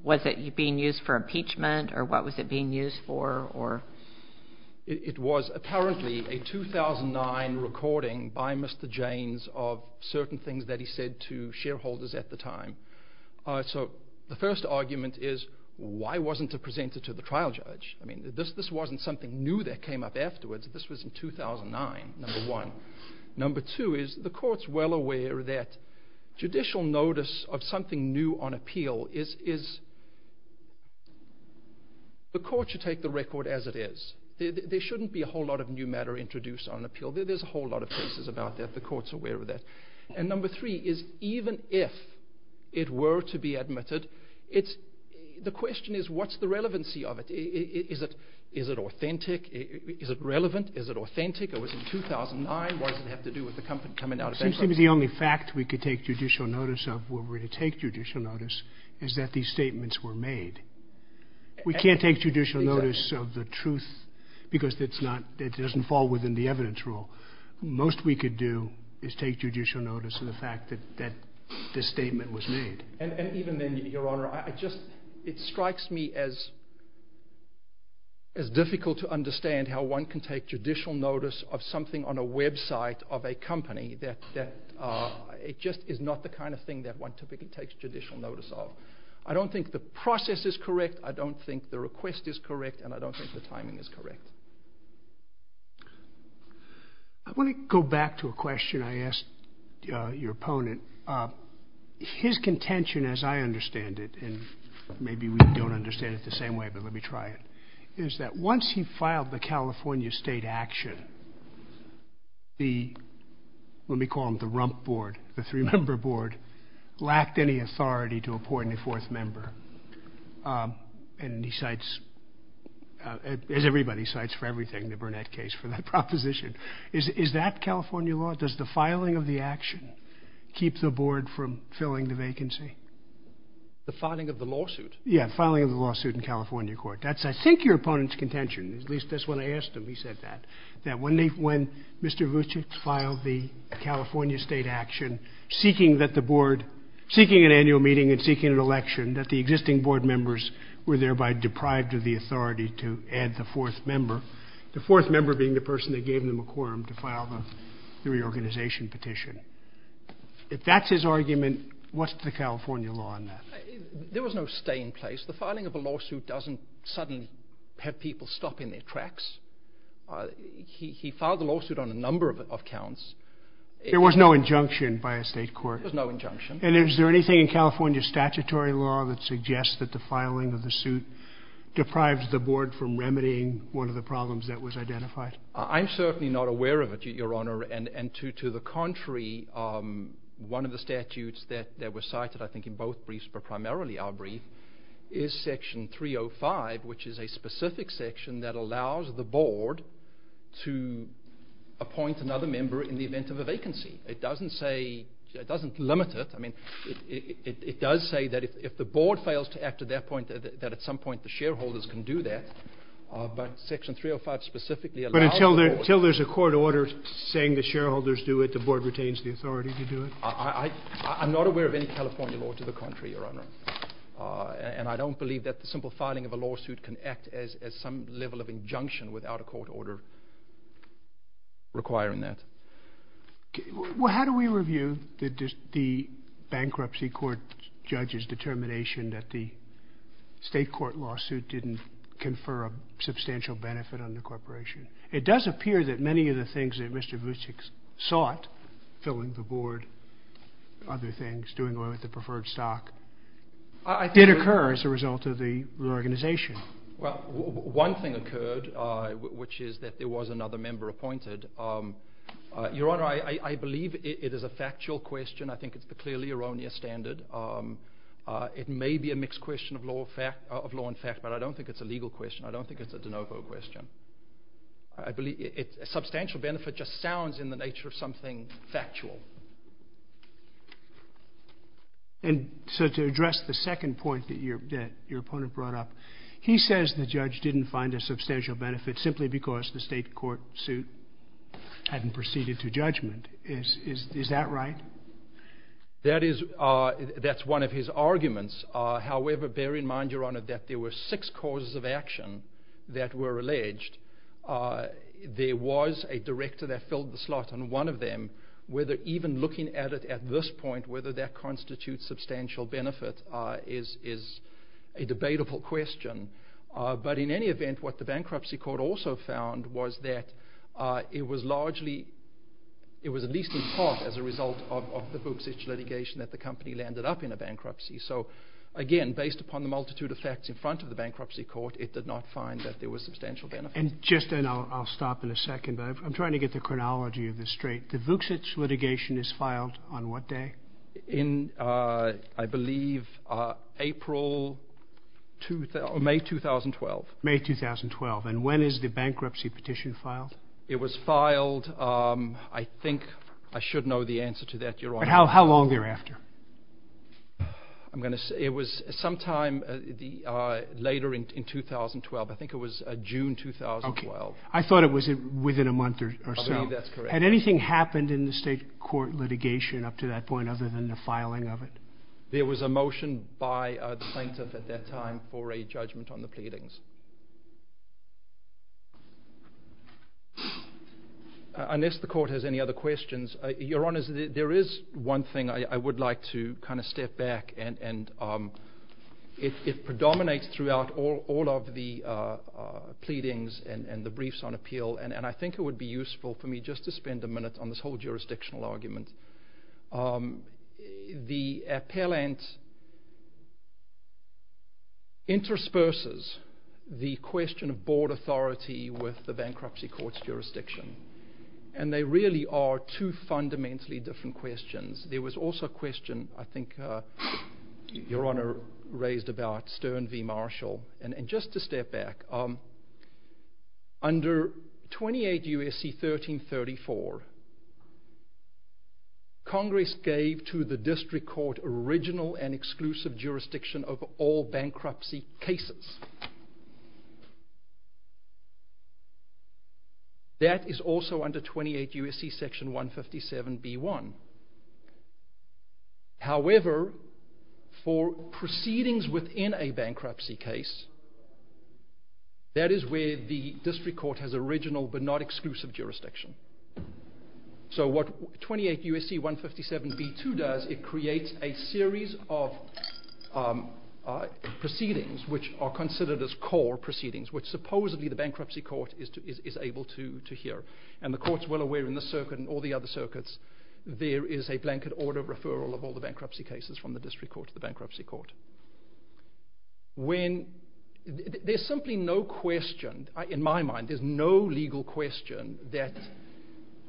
Was it being used for impeachment? Or what was it being used for? It was apparently a 2009 recording by Mr. James of certain things that he said to shareholders at the time. So the first argument is, why wasn't it presented to the trial judge? I mean, this wasn't something new that came up afterwards. This was in 2009, number one. Number two is, the court's well aware that judicial notice of something new on appeal is... The court should take the record as it is. There shouldn't be a whole lot of new matter introduced on appeal. There's a whole lot of cases about that. The court's aware of that. And number three is, even if it were to be admitted, the question is, what's the relevancy of it? Is it authentic? Is it relevant? Is it authentic? It was in 2009. Why does it have to do with the coming out of bankruptcy? It seems to me the only fact we could take judicial notice of where we're going to take judicial notice is that these statements were made. We can't take judicial notice of the truth because it doesn't fall within the evidence rule. Most we could do is take judicial notice of the fact that this statement was made. And even then, Your Honor, it strikes me as difficult to understand how one can take judicial notice of something on a website of a company that it just is not the kind of thing that one typically takes judicial notice of. I don't think the process is correct. I don't think the request is correct. And I don't think the timing is correct. I want to go back to a question I asked your opponent. His contention, as I understand it, and maybe we don't understand it the same way, but let me try it, is that once he filed the California state action, the, let me call them the rump board, the three-member board, lacked any authority to appoint a fourth member. And he cites, as everybody cites for everything, the Burnett case for that proposition. Is that California law? Does the filing of the action keep the board from filling the vacancy? The filing of the lawsuit? Yeah, filing of the lawsuit in California court. That's, I think, your opponent's contention. At least that's what I asked him. He said that. That when they, when Mr. Vucic filed the California state action, seeking that the board, seeking an annual meeting and seeking an election, that the existing board members were thereby deprived of the authority to add the fourth member, the fourth member being the person that gave them a quorum to file the reorganization petition. If that's his argument, what's the California law on that? There was no staying place. The filing of a lawsuit doesn't suddenly have people stopping their tracks. He filed the lawsuit on a number of accounts. There was no injunction by a state court. There was no injunction. And is there anything in California statutory law that suggests that the filing of the suit deprives the board from remedying one of the problems that was identified? I'm certainly not aware of it, Your Honor. And to the contrary, one of the statutes that was cited, I think, in both briefs, but primarily our brief, is Section 305, which is a specific section that allows the board to appoint another member in the event of a vacancy. It doesn't say, it doesn't limit it. I mean, it does say that if the board fails to act at that point, that at some point the shareholders can do that. But Section 305 specifically allows the board. But until there's a court order saying the shareholders do it, the board retains the authority to do it? I'm not aware of any California law to the contrary, Your Honor. And I don't believe that the simple filing of a lawsuit can act as some level of injunction without a court order requiring that. Well, how do we review the bankruptcy court judge's determination that the state court lawsuit didn't confer a substantial benefit on the corporation? It does appear that many of the things that Mr. Vucic sought, filling the board, other things, doing away with the preferred stock, did occur as a result of the organization. One thing occurred, which is that there was another member appointed. Your Honor, I believe it is a factual question. I think it's clearly erroneous standard. It may be a mixed question of law and fact, but I don't think it's a legal question. I don't think it's a de novo question. A substantial benefit just sounds in the nature of something factual. And so to address the second point that your opponent brought up, he says the judge didn't find a substantial benefit simply because the state court suit hadn't proceeded to judgment. Is that right? That's one of his arguments. However, bear in mind, Your Honor, that there were six causes of action that were alleged. There was a director that filled the slot on one of them. Even looking at it at this point, whether that constitutes substantial benefit is a debatable question. But in any event, what the bankruptcy court also found was that it was largely – it was at least in part as a result of the Vucic litigation that the company landed up in a bankruptcy. So, again, based upon the multitude of facts in front of the bankruptcy court, it did not find that there was substantial benefit. And just – and I'll stop in a second, but I'm trying to get the chronology of this straight. The Vucic litigation is filed on what day? In, I believe, April – or May 2012. May 2012. And when is the bankruptcy petition filed? It was filed – I think I should know the answer to that, Your Honor. But how long thereafter? I'm going to say it was sometime later in 2012. I think it was June 2012. Okay. I thought it was within a month or so. I believe that's correct. Had anything happened in the state court litigation up to that point other than the filing of it? There was a motion by the plaintiff at that time for a judgment on the pleadings. Unless the court has any other questions, Your Honor, there is one thing I would like to kind of step back. And it predominates throughout all of the pleadings and the briefs on appeal, and I think it would be useful for me just to spend a minute on this whole jurisdictional argument. The appellant intersperses the question of board authority with the bankruptcy court's jurisdiction, and they really are two fundamentally different questions. There was also a question I think Your Honor raised about Stern v. Marshall. And just to step back, under 28 U.S.C. 1334, Congress gave to the district court original and exclusive jurisdiction over all bankruptcy cases. That is also under 28 U.S.C. section 157B1. However, for proceedings within a bankruptcy case, that is where the district court has original but not exclusive jurisdiction. So what 28 U.S.C. 157B2 does, it creates a series of proceedings which are considered as core proceedings, which supposedly the bankruptcy court is able to hear. And the court's well aware in this circuit and all the other circuits, there is a blanket order of referral of all the bankruptcy cases from the district court to the bankruptcy court. There's simply no question, in my mind, there's no legal question that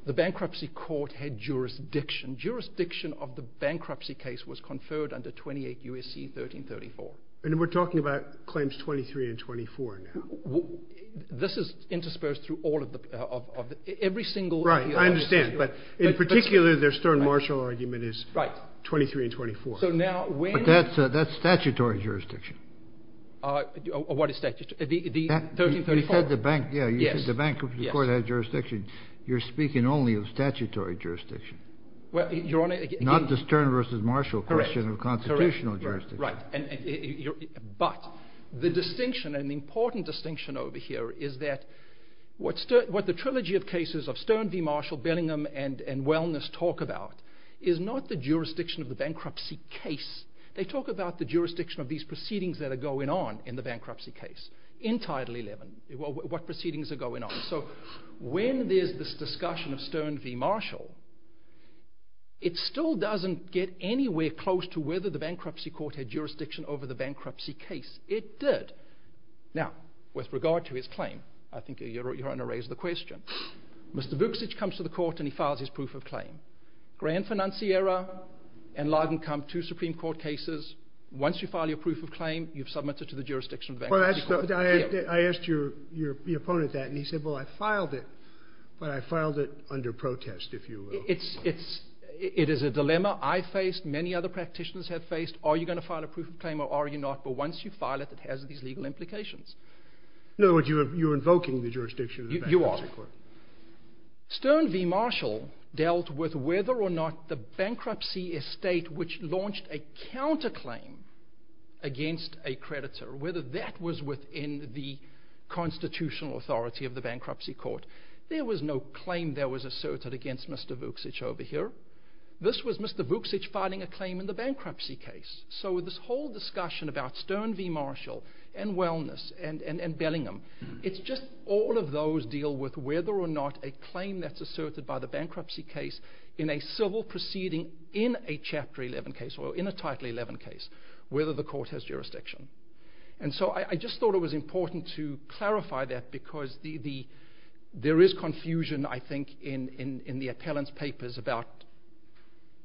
the bankruptcy court had jurisdiction. Jurisdiction of the bankruptcy case was conferred under 28 U.S.C. 1334. And we're talking about claims 23 and 24 now. This is interspersed through every single… Right, I understand. But in particular, their Stern-Marshall argument is 23 and 24. But that's statutory jurisdiction. What is statutory? You said the bankruptcy court had jurisdiction. You're speaking only of statutory jurisdiction. Not the Stern versus Marshall question of constitutional jurisdiction. Right. But the distinction, an important distinction over here, is that what the trilogy of cases of Stern v. Marshall, Benningham, and Wellness talk about is not the jurisdiction of the bankruptcy case. They talk about the jurisdiction of these proceedings that are going on in the bankruptcy case in Title 11, what proceedings are going on. It still doesn't get anywhere close to whether the bankruptcy court had jurisdiction over the bankruptcy case. It did. Now, with regard to his claim, I think you're going to raise the question. Mr. Bookstitch comes to the court and he files his proof of claim. Grand financiera and large-income, two Supreme Court cases. Once you file your proof of claim, you've submitted to the jurisdiction of the bankruptcy court. I asked your opponent that, and he said, well, I filed it, but I filed it under protest, if you will. It is a dilemma I faced, many other practitioners have faced. Are you going to file a proof of claim or are you not? But once you file it, it has these legal implications. In other words, you're invoking the jurisdiction of the bankruptcy court. You are. Stern v. Marshall dealt with whether or not the bankruptcy estate, which launched a counterclaim against a creditor, whether that was within the constitutional authority of the bankruptcy court. There was no claim that was asserted against Mr. Bookstitch over here. This was Mr. Bookstitch filing a claim in the bankruptcy case. So this whole discussion about Stern v. Marshall and wellness and Bellingham, it's just all of those deal with whether or not a claim that's asserted by the bankruptcy case in a civil proceeding in a Chapter 11 case or in a Title 11 case, whether the court has jurisdiction. And so I just thought it was important to clarify that because there is confusion, I think, in the appellant's papers about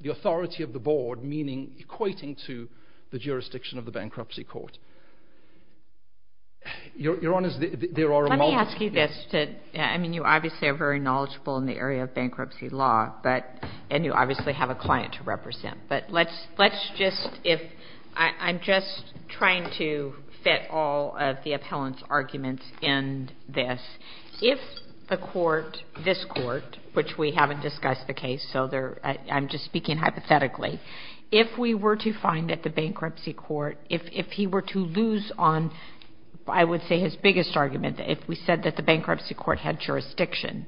the authority of the board, meaning equating to the jurisdiction of the bankruptcy court. Your Honor, there are multiple— Let me ask you this. I mean, you obviously are very knowledgeable in the area of bankruptcy law, and you obviously have a client to represent. But let's just—I'm just trying to fit all of the appellant's arguments in this. If the court, this court, which we haven't discussed the case, so I'm just speaking hypothetically, if we were to find that the bankruptcy court, if he were to lose on, I would say, his biggest argument, if we said that the bankruptcy court had jurisdiction,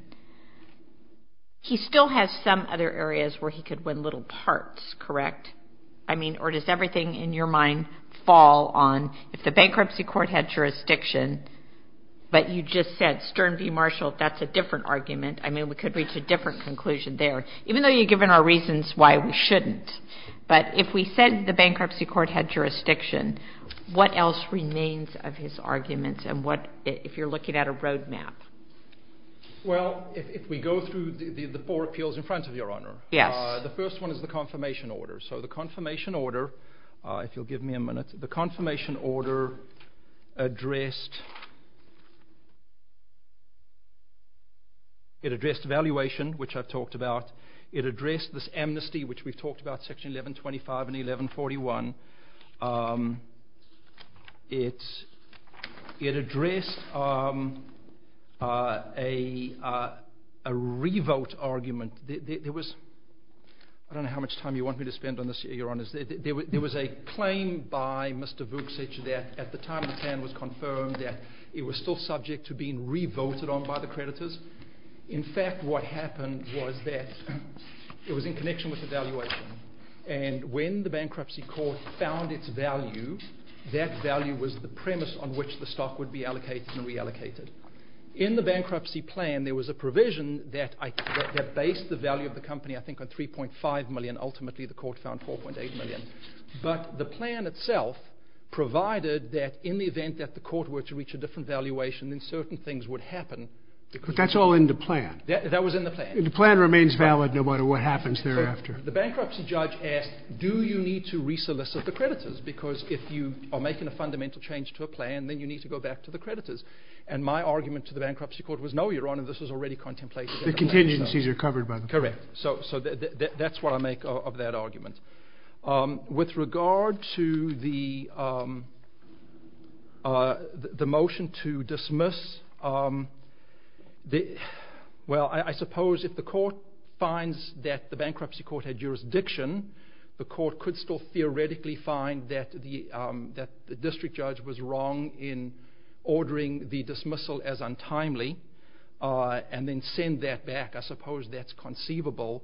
he still has some other areas where he could win little parts, correct? I mean, or does everything in your mind fall on if the bankruptcy court had jurisdiction, but you just said Stern v. Marshall, that's a different argument. I mean, we could reach a different conclusion there, even though you've given our reasons why we shouldn't. But if we said the bankruptcy court had jurisdiction, what else remains of his arguments? And what—if you're looking at a roadmap. Well, if we go through the four appeals in front of you, Your Honor, the first one is the confirmation order. So the confirmation order, if you'll give me a minute, the confirmation order addressed— it addressed valuation, which I've talked about. It addressed this amnesty, which we've talked about, Section 1125 and 1141. It addressed a re-vote argument. There was—I don't know how much time you want me to spend on this here, Your Honor. There was a claim by Mr. Voogts, et cetera, that at the time the plan was confirmed, that it was still subject to being re-voted on by the creditors. In fact, what happened was that it was in connection with evaluation. And when the bankruptcy court found its value, that value was the premise on which the stock would be allocated and reallocated. In the bankruptcy plan, there was a provision that based the value of the company, I think, on $3.5 million. Ultimately, the court found $4.8 million. But the plan itself provided that in the event that the court were to reach a different valuation, then certain things would happen. But that's all in the plan. That was in the plan. The plan remains valid no matter what happens thereafter. The bankruptcy judge asked, do you need to re-solicit the creditors? Because if you are making a fundamental change to a plan, then you need to go back to the creditors. And my argument to the bankruptcy court was, no, Your Honor, this was already contemplated. The contingencies are covered by the court. Correct. So that's what I make of that argument. With regard to the motion to dismiss, well, I suppose if the court finds that the bankruptcy court had jurisdiction, the court could still theoretically find that the district judge was wrong in ordering the dismissal as untimely and then send that back. I suppose that's conceivable.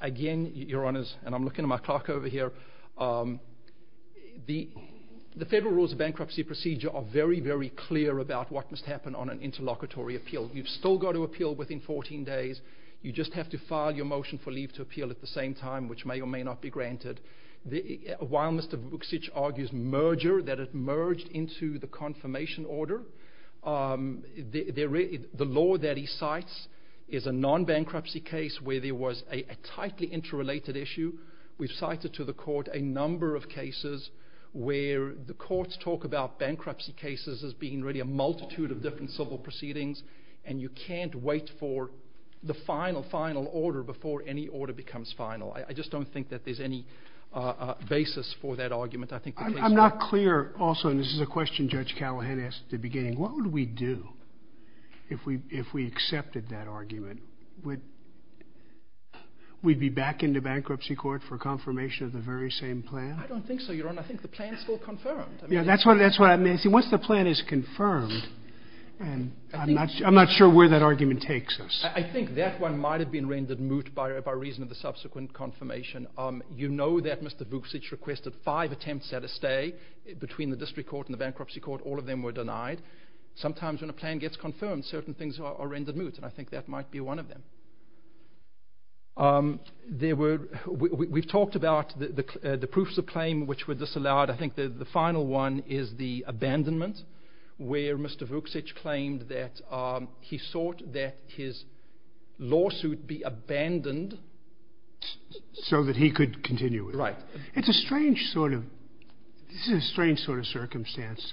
Again, Your Honors, and I'm looking at my clock over here, the Federal Rules of Bankruptcy Procedure are very, very clear about what must happen on an interlocutory appeal. You've still got to appeal within 14 days. You just have to file your motion for leave to appeal at the same time, which may or may not be granted. While Mr. Bookstitch argues merger, that it merged into the confirmation order, the law that he cites is a non-bankruptcy case where there was a tightly interrelated issue. We've cited to the court a number of cases where the courts talk about bankruptcy cases as being really a multitude of different civil proceedings, and you can't wait for the final, final order before any order becomes final. I just don't think that there's any basis for that argument. I'm not clear also, and this is a question Judge Callahan asked at the beginning. What would we do if we accepted that argument? Would we be back into bankruptcy court for confirmation of the very same plan? I don't think so, Your Honor. I think the plan is still confirmed. That's what I mean. Once the plan is confirmed, I'm not sure where that argument takes us. I think that one might have been rendered moot by reason of the subsequent confirmation. You know that Mr. Bookstitch requested five attempts at a stay between the district court and the bankruptcy court. All of them were denied. Sometimes when a plan gets confirmed, certain things are rendered moot, and I think that might be one of them. We've talked about the proofs of claim which were disallowed. I think the final one is the abandonment where Mr. Bookstitch claimed that he sought that his lawsuit be abandoned. So that he could continue. Right. It's a strange sort of circumstance.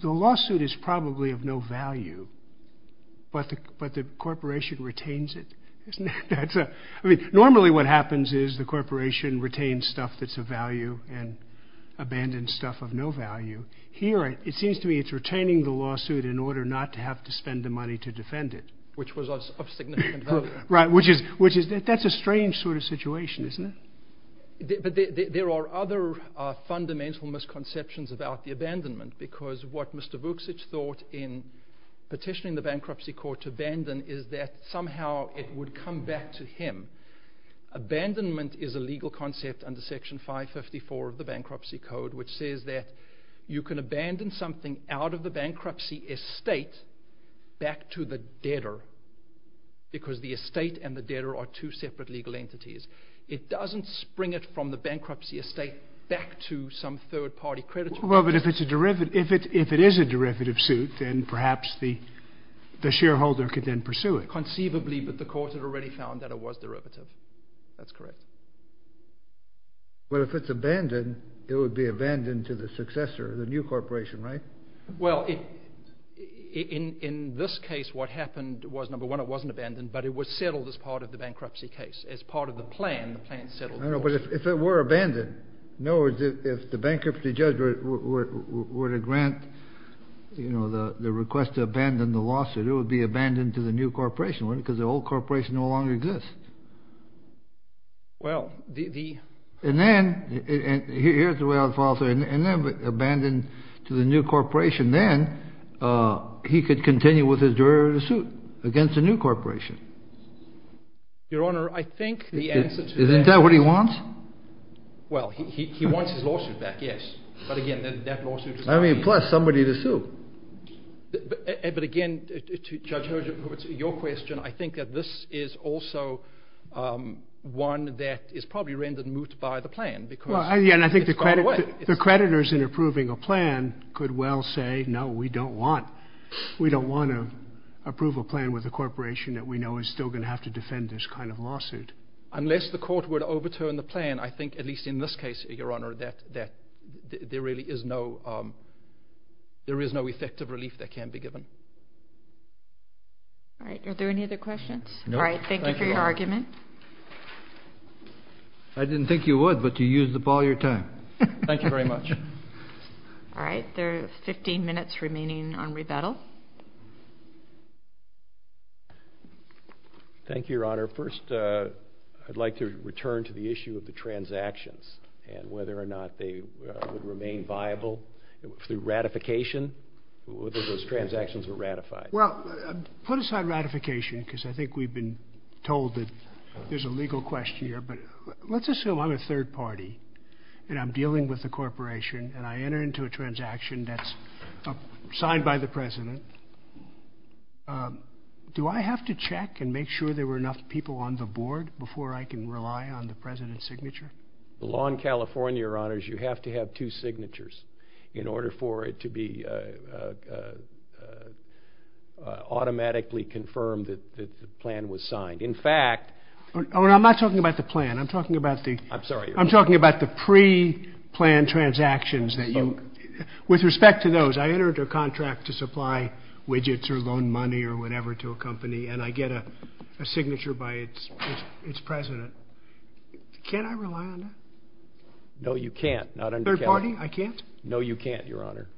The lawsuit is probably of no value, but the corporation retains it. Normally what happens is the corporation retains stuff that's of value and abandons stuff of no value. Here it seems to me it's retaining the lawsuit in order not to have to spend the money to defend it. Which was of significant value. Right. That's a strange sort of situation, isn't it? There are other fundamental misconceptions about the abandonment. Because what Mr. Bookstitch thought in petitioning the bankruptcy court to abandon is that somehow it would come back to him. Abandonment is a legal concept under Section 554 of the Bankruptcy Code which says that you can abandon something out of the bankruptcy estate back to the debtor. Because the estate and the debtor are two separate legal entities. It doesn't spring it from the bankruptcy estate back to some third party creditor. Well, but if it is a derivative suit, then perhaps the shareholder could then pursue it. Conceivably, but the court had already found that it was derivative. That's correct. But if it's abandoned, it would be abandoned to the successor, the new corporation, right? Well, in this case, what happened was, number one, it wasn't abandoned, but it was settled as part of the bankruptcy case. As part of the plan, the plan settled. No, but if it were abandoned, no, if the bankruptcy judge were to grant the request to abandon the lawsuit, it would be abandoned to the new corporation, wouldn't it? Because the old corporation no longer exists. Well, the... And then, here's the way I would follow through. And then if it's abandoned to the new corporation, then he could continue with his derivative suit against the new corporation. Your Honor, I think the answer to that... Isn't that what he wants? Well, he wants his lawsuit back, yes. But again, that lawsuit is... I mean, plus somebody to sue. But again, Judge Herjavec, to your question, I think that this is also one that is probably rendered moot by the plan because it's gone away. Well, again, I think the creditors in approving a plan could well say, no, we don't want... We don't want to approve a plan with a corporation that we know is still going to have to defend this kind of lawsuit. Unless the court would overturn the plan, I think, at least in this case, Your Honor, that there really is no... There is no effective relief that can be given. All right, are there any other questions? No, thank you. All right, thank you for your argument. I didn't think you would, but you used up all your time. Thank you very much. All right, there are 15 minutes remaining on rebuttal. Thank you, Your Honor. First, I'd like to return to the issue of the transactions and whether or not they would remain viable through ratification, whether those transactions are ratified. Well, put aside ratification because I think we've been told that there's a legal question here, but let's assume I'm a third party and I'm dealing with a corporation and I enter into a transaction that's signed by the president. Do I have to check and make sure there were enough people on the board before I can rely on the president's signature? The law in California, Your Honor, is you have to have two signatures in order for it to be automatically confirmed that the plan was signed. In fact... I'm not talking about the plan. I'm talking about the... I'm sorry. With respect to those, I entered a contract to supply widgets or loan money or whatever to a company and I get a signature by its president. Can I rely on that? No, you can't. Third party, I can't? No, you can't, Your Honor.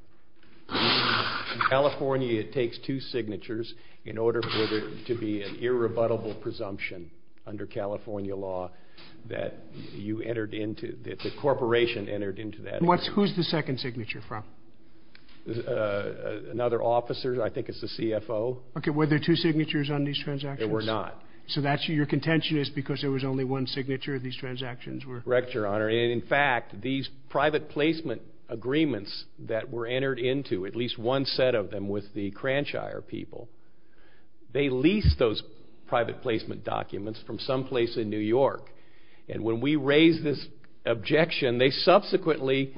In California, it takes two signatures in order for there to be an irrebuttable presumption under California law that the corporation entered into that contract. And who's the second signature from? Another officer. I think it's the CFO. Okay. Were there two signatures on these transactions? There were not. So your contention is because there was only one signature, these transactions were... Correct, Your Honor. In fact, these private placement agreements that were entered into, at least one set of them with the Cranchire people, they leased those private placement documents from someplace in New York. And when we raised this objection, they subsequently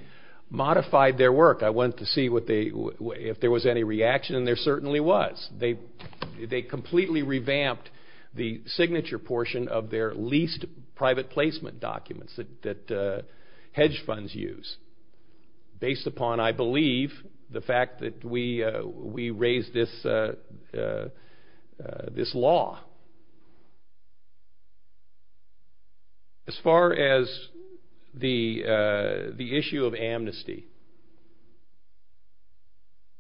modified their work. I went to see if there was any reaction and there certainly was. They completely revamped the signature portion of their leased private placement documents that hedge funds use, based upon, I believe, the fact that we raised this law. As far as the issue of amnesty,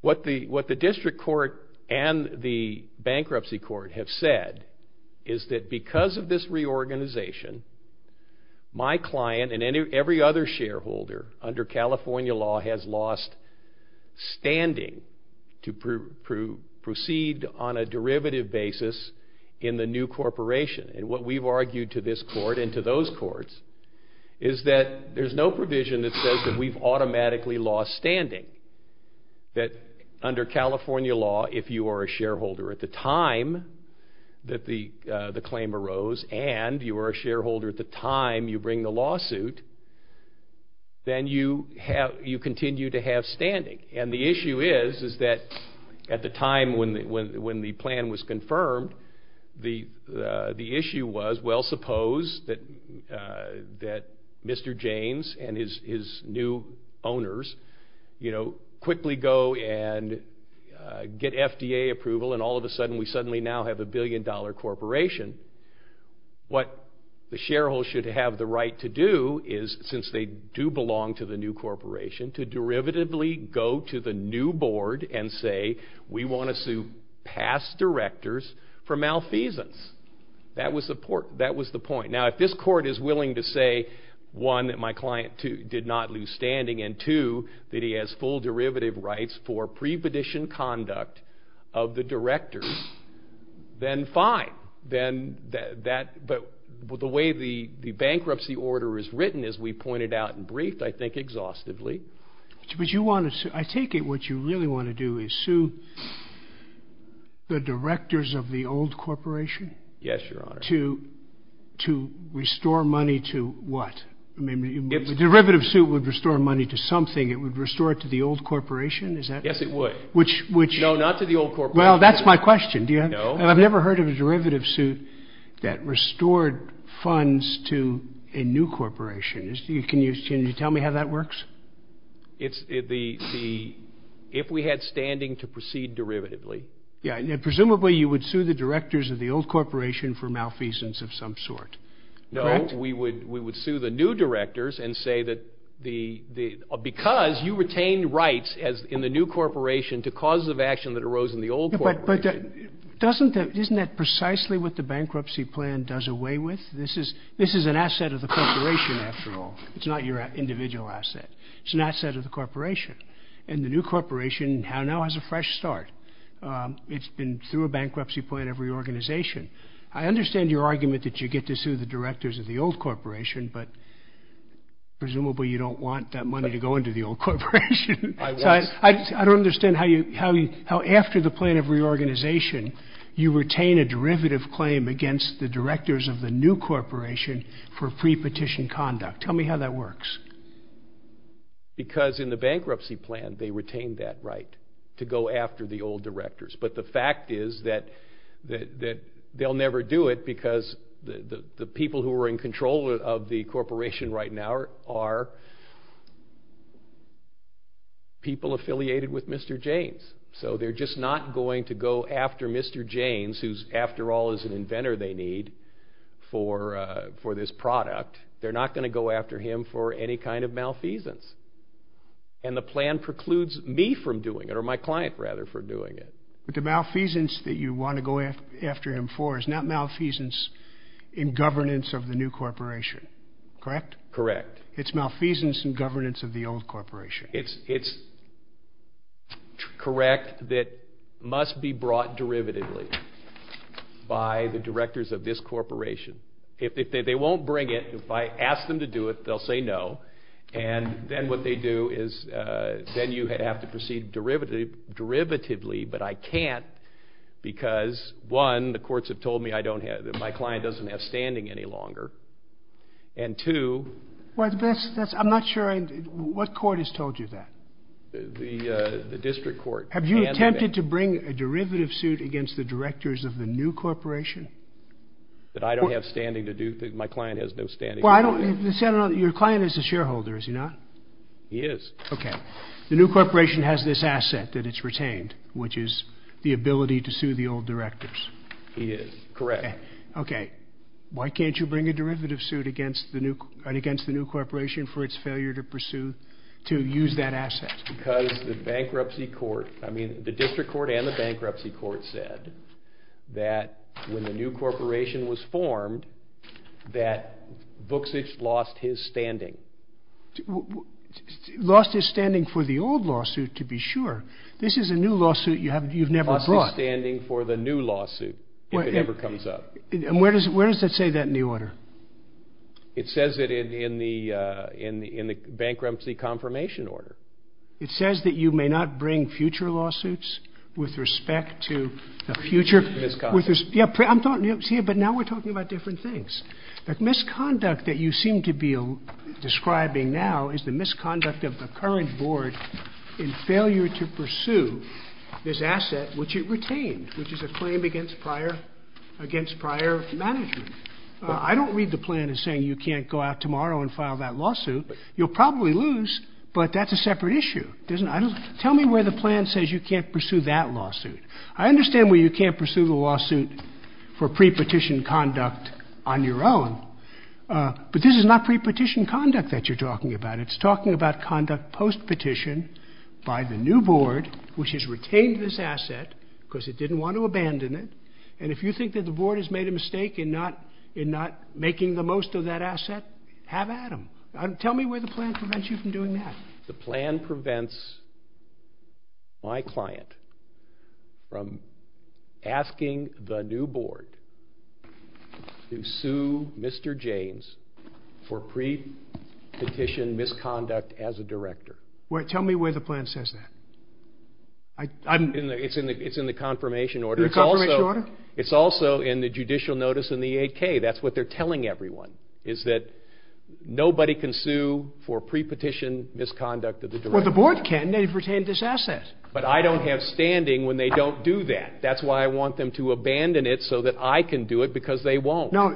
what the district court and the bankruptcy court have said is that because of this reorganization, my client and every other shareholder under California law has lost standing to proceed on a derivative basis in the new corporation. And what we've argued to this court and to those courts is that there's no provision that says that we've automatically lost standing. That under California law, if you are a shareholder at the time that the claim arose and you are a shareholder at the time you bring the lawsuit, then you continue to have standing. And the issue is, is that at the time when the plan was confirmed, the issue was, well, suppose that Mr. James and his new owners quickly go and get FDA approval and all of a sudden we suddenly now have a billion-dollar corporation. What the shareholders should have the right to do is, since they do belong to the new corporation, to derivatively go to the new board and say, we want to sue past directors for malfeasance. That was the point. Now, if this court is willing to say, one, that my client did not lose standing, and two, that he has full derivative rights for prepetition conduct of the directors, then fine. But the way the bankruptcy order is written, as we pointed out in brief, I think exhaustively. But you want to sue, I take it what you really want to do is sue the directors of the old corporation? Yes, Your Honor. To restore money to what? I mean, if the derivative suit would restore money to something, it would restore it to the old corporation? Yes, it would. No, not to the old corporation. Well, that's my question. No. I've never heard of a derivative suit that restored funds to a new corporation. Can you tell me how that works? It's the, if we had standing to proceed derivatively. Yeah, presumably you would sue the directors of the old corporation for malfeasance of some sort. No, we would sue the new directors and say that because you retained rights in the new corporation to causes of action that arose in the old corporation. But doesn't that, isn't that precisely what the bankruptcy plan does away with? This is an asset of the corporation, after all. It's not your individual asset. It's an asset of the corporation. And the new corporation now has a fresh start. It's been through a bankruptcy plan of reorganization. I understand your argument that you get to sue the directors of the old corporation, but presumably you don't want that money to go into the old corporation. I don't understand how after the plan of reorganization, you retain a derivative claim against the directors of the new corporation for pre-petition conduct. Tell me how that works. Because in the bankruptcy plan, they retained that right to go after the old directors. But the fact is that they'll never do it because the people who are in control of the corporation right now are people affiliated with Mr. James. So they're just not going to go after Mr. James, who's after all is an inventor they need for this product. They're not going to go after him for any kind of malfeasance. And the plan precludes me from doing it, or my client rather, for doing it. But the malfeasance that you want to go after him for is not malfeasance in governance of the new corporation, correct? Correct. It's malfeasance in governance of the old corporation. It's correct that must be brought derivatively by the directors of this corporation. If they won't bring it, if I ask them to do it, they'll say no. And then what they do is then you have to proceed derivatively, but I can't, because one, the courts have told me that my client doesn't have standing any longer. And two... Well, I'm not sure what court has told you that. The district court. Have you attempted to bring a derivative suit against the directors of the new corporation? That I don't have standing to do, my client has been standing. Well, your client is a shareholder, is he not? He is. Okay. The new corporation has this asset that it's retained, which is the ability to sue the old directors. He is, correct. Okay. Why can't you bring a derivative suit against the new corporation for its failure to pursue, to use that asset? Because the bankruptcy court, I mean, the district court and the bankruptcy court said that when the new corporation was formed, that Vucic lost his standing. Lost his standing for the old lawsuit, to be sure. This is a new lawsuit you've never brought. He lost his standing for the new lawsuit if it ever comes up. And where does that say that in the order? It says it in the bankruptcy confirmation order. It says that you may not bring future lawsuits with respect to the future. Misconduct. Yeah, but now we're talking about different things. The misconduct that you seem to be describing now is the misconduct of the current board in failure to pursue this asset which it retained, which is a claim against prior management. I don't read the plan as saying you can't go out tomorrow and file that lawsuit. You'll probably lose, but that's a separate issue. Tell me where the plan says you can't pursue that lawsuit. I understand where you can't pursue the lawsuit for pre-petition conduct on your own, but this is not pre-petition conduct that you're talking about. It's talking about conduct post-petition by the new board, which has retained this asset because it didn't want to abandon it. And if you think that the board has made a mistake in not making the most of that asset, have at them. Tell me where the plan prevents you from doing that. The plan prevents my client from asking the new board to sue Mr. James for pre-petition misconduct as a director. Tell me where the plan says that. It's in the confirmation order. The confirmation order? It's also in the judicial notice in the AK. That's what they're telling everyone, is that nobody can sue for pre-petition misconduct of the director. Well, the board can. They've retained this asset. But I don't have standing when they don't do that. That's why I want them to abandon it so that I can do it because they won't. No,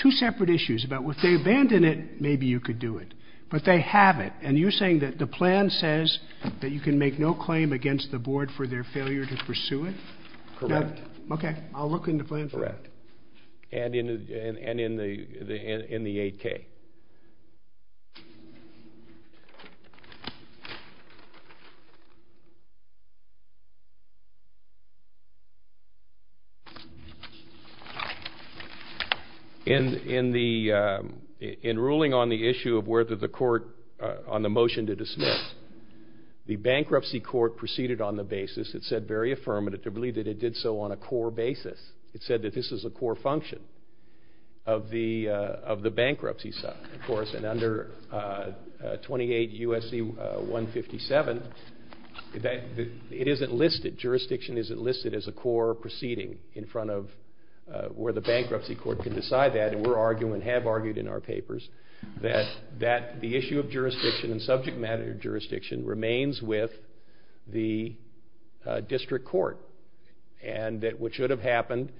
two separate issues. If they abandon it, maybe you could do it, but they haven't. And you're saying that the plan says that you can make no claim against the board for their failure to pursue it? Correct. Okay, I'll look in the plan for that. And in the AK. In ruling on the issue of whether the court on the motion to dismiss, the bankruptcy court proceeded on the basis, it said very affirmatively, that it did so on a core basis. It said that this is a core function of the bankruptcy side, of course. And under 28 U.S.C. 157, it isn't listed. Jurisdiction isn't listed as a core proceeding in front of where the bankruptcy court can decide that. And we're arguing, and have argued in our papers, that the issue of jurisdiction and subject matter jurisdiction remains with the district court. And that what should have happened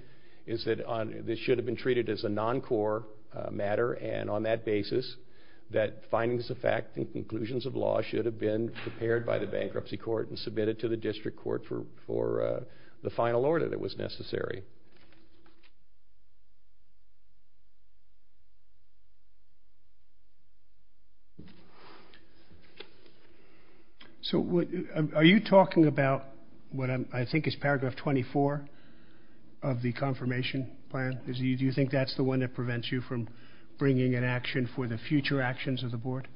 is that this should have been treated as a non-core matter. And on that basis, that findings of fact and conclusions of law should have been prepared by the bankruptcy court and submitted to the district court for the final order that was necessary. Thank you. So are you talking about what I think is paragraph 24 of the confirmation plan? Do you think that's the one that prevents you from bringing an action for the future actions of the board?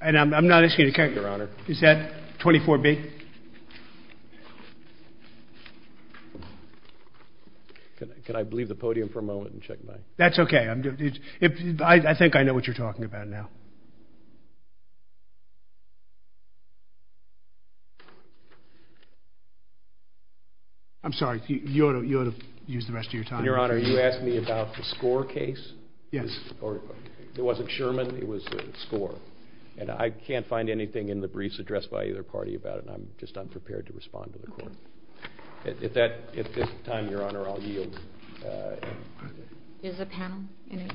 And I'm not asking you to correct me. Your Honor. Is that 24B? Can I leave the podium for a moment and check my... That's okay. I think I know what you're talking about now. I'm sorry. You ought to use the rest of your time. Your Honor, you asked me about the score case. Yes. It wasn't Sherman. It was score. And I can't find anything in the briefs addressed by either party about it. I'm just unprepared to respond to the court. At this time, Your Honor, I'll yield. Does the panel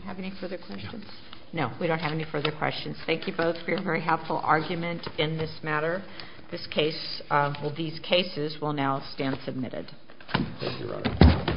have any further questions? No. We don't have any further questions. Thank you both for your very helpful argument in this matter. These cases will now stand submitted. Thank you, Your Honor.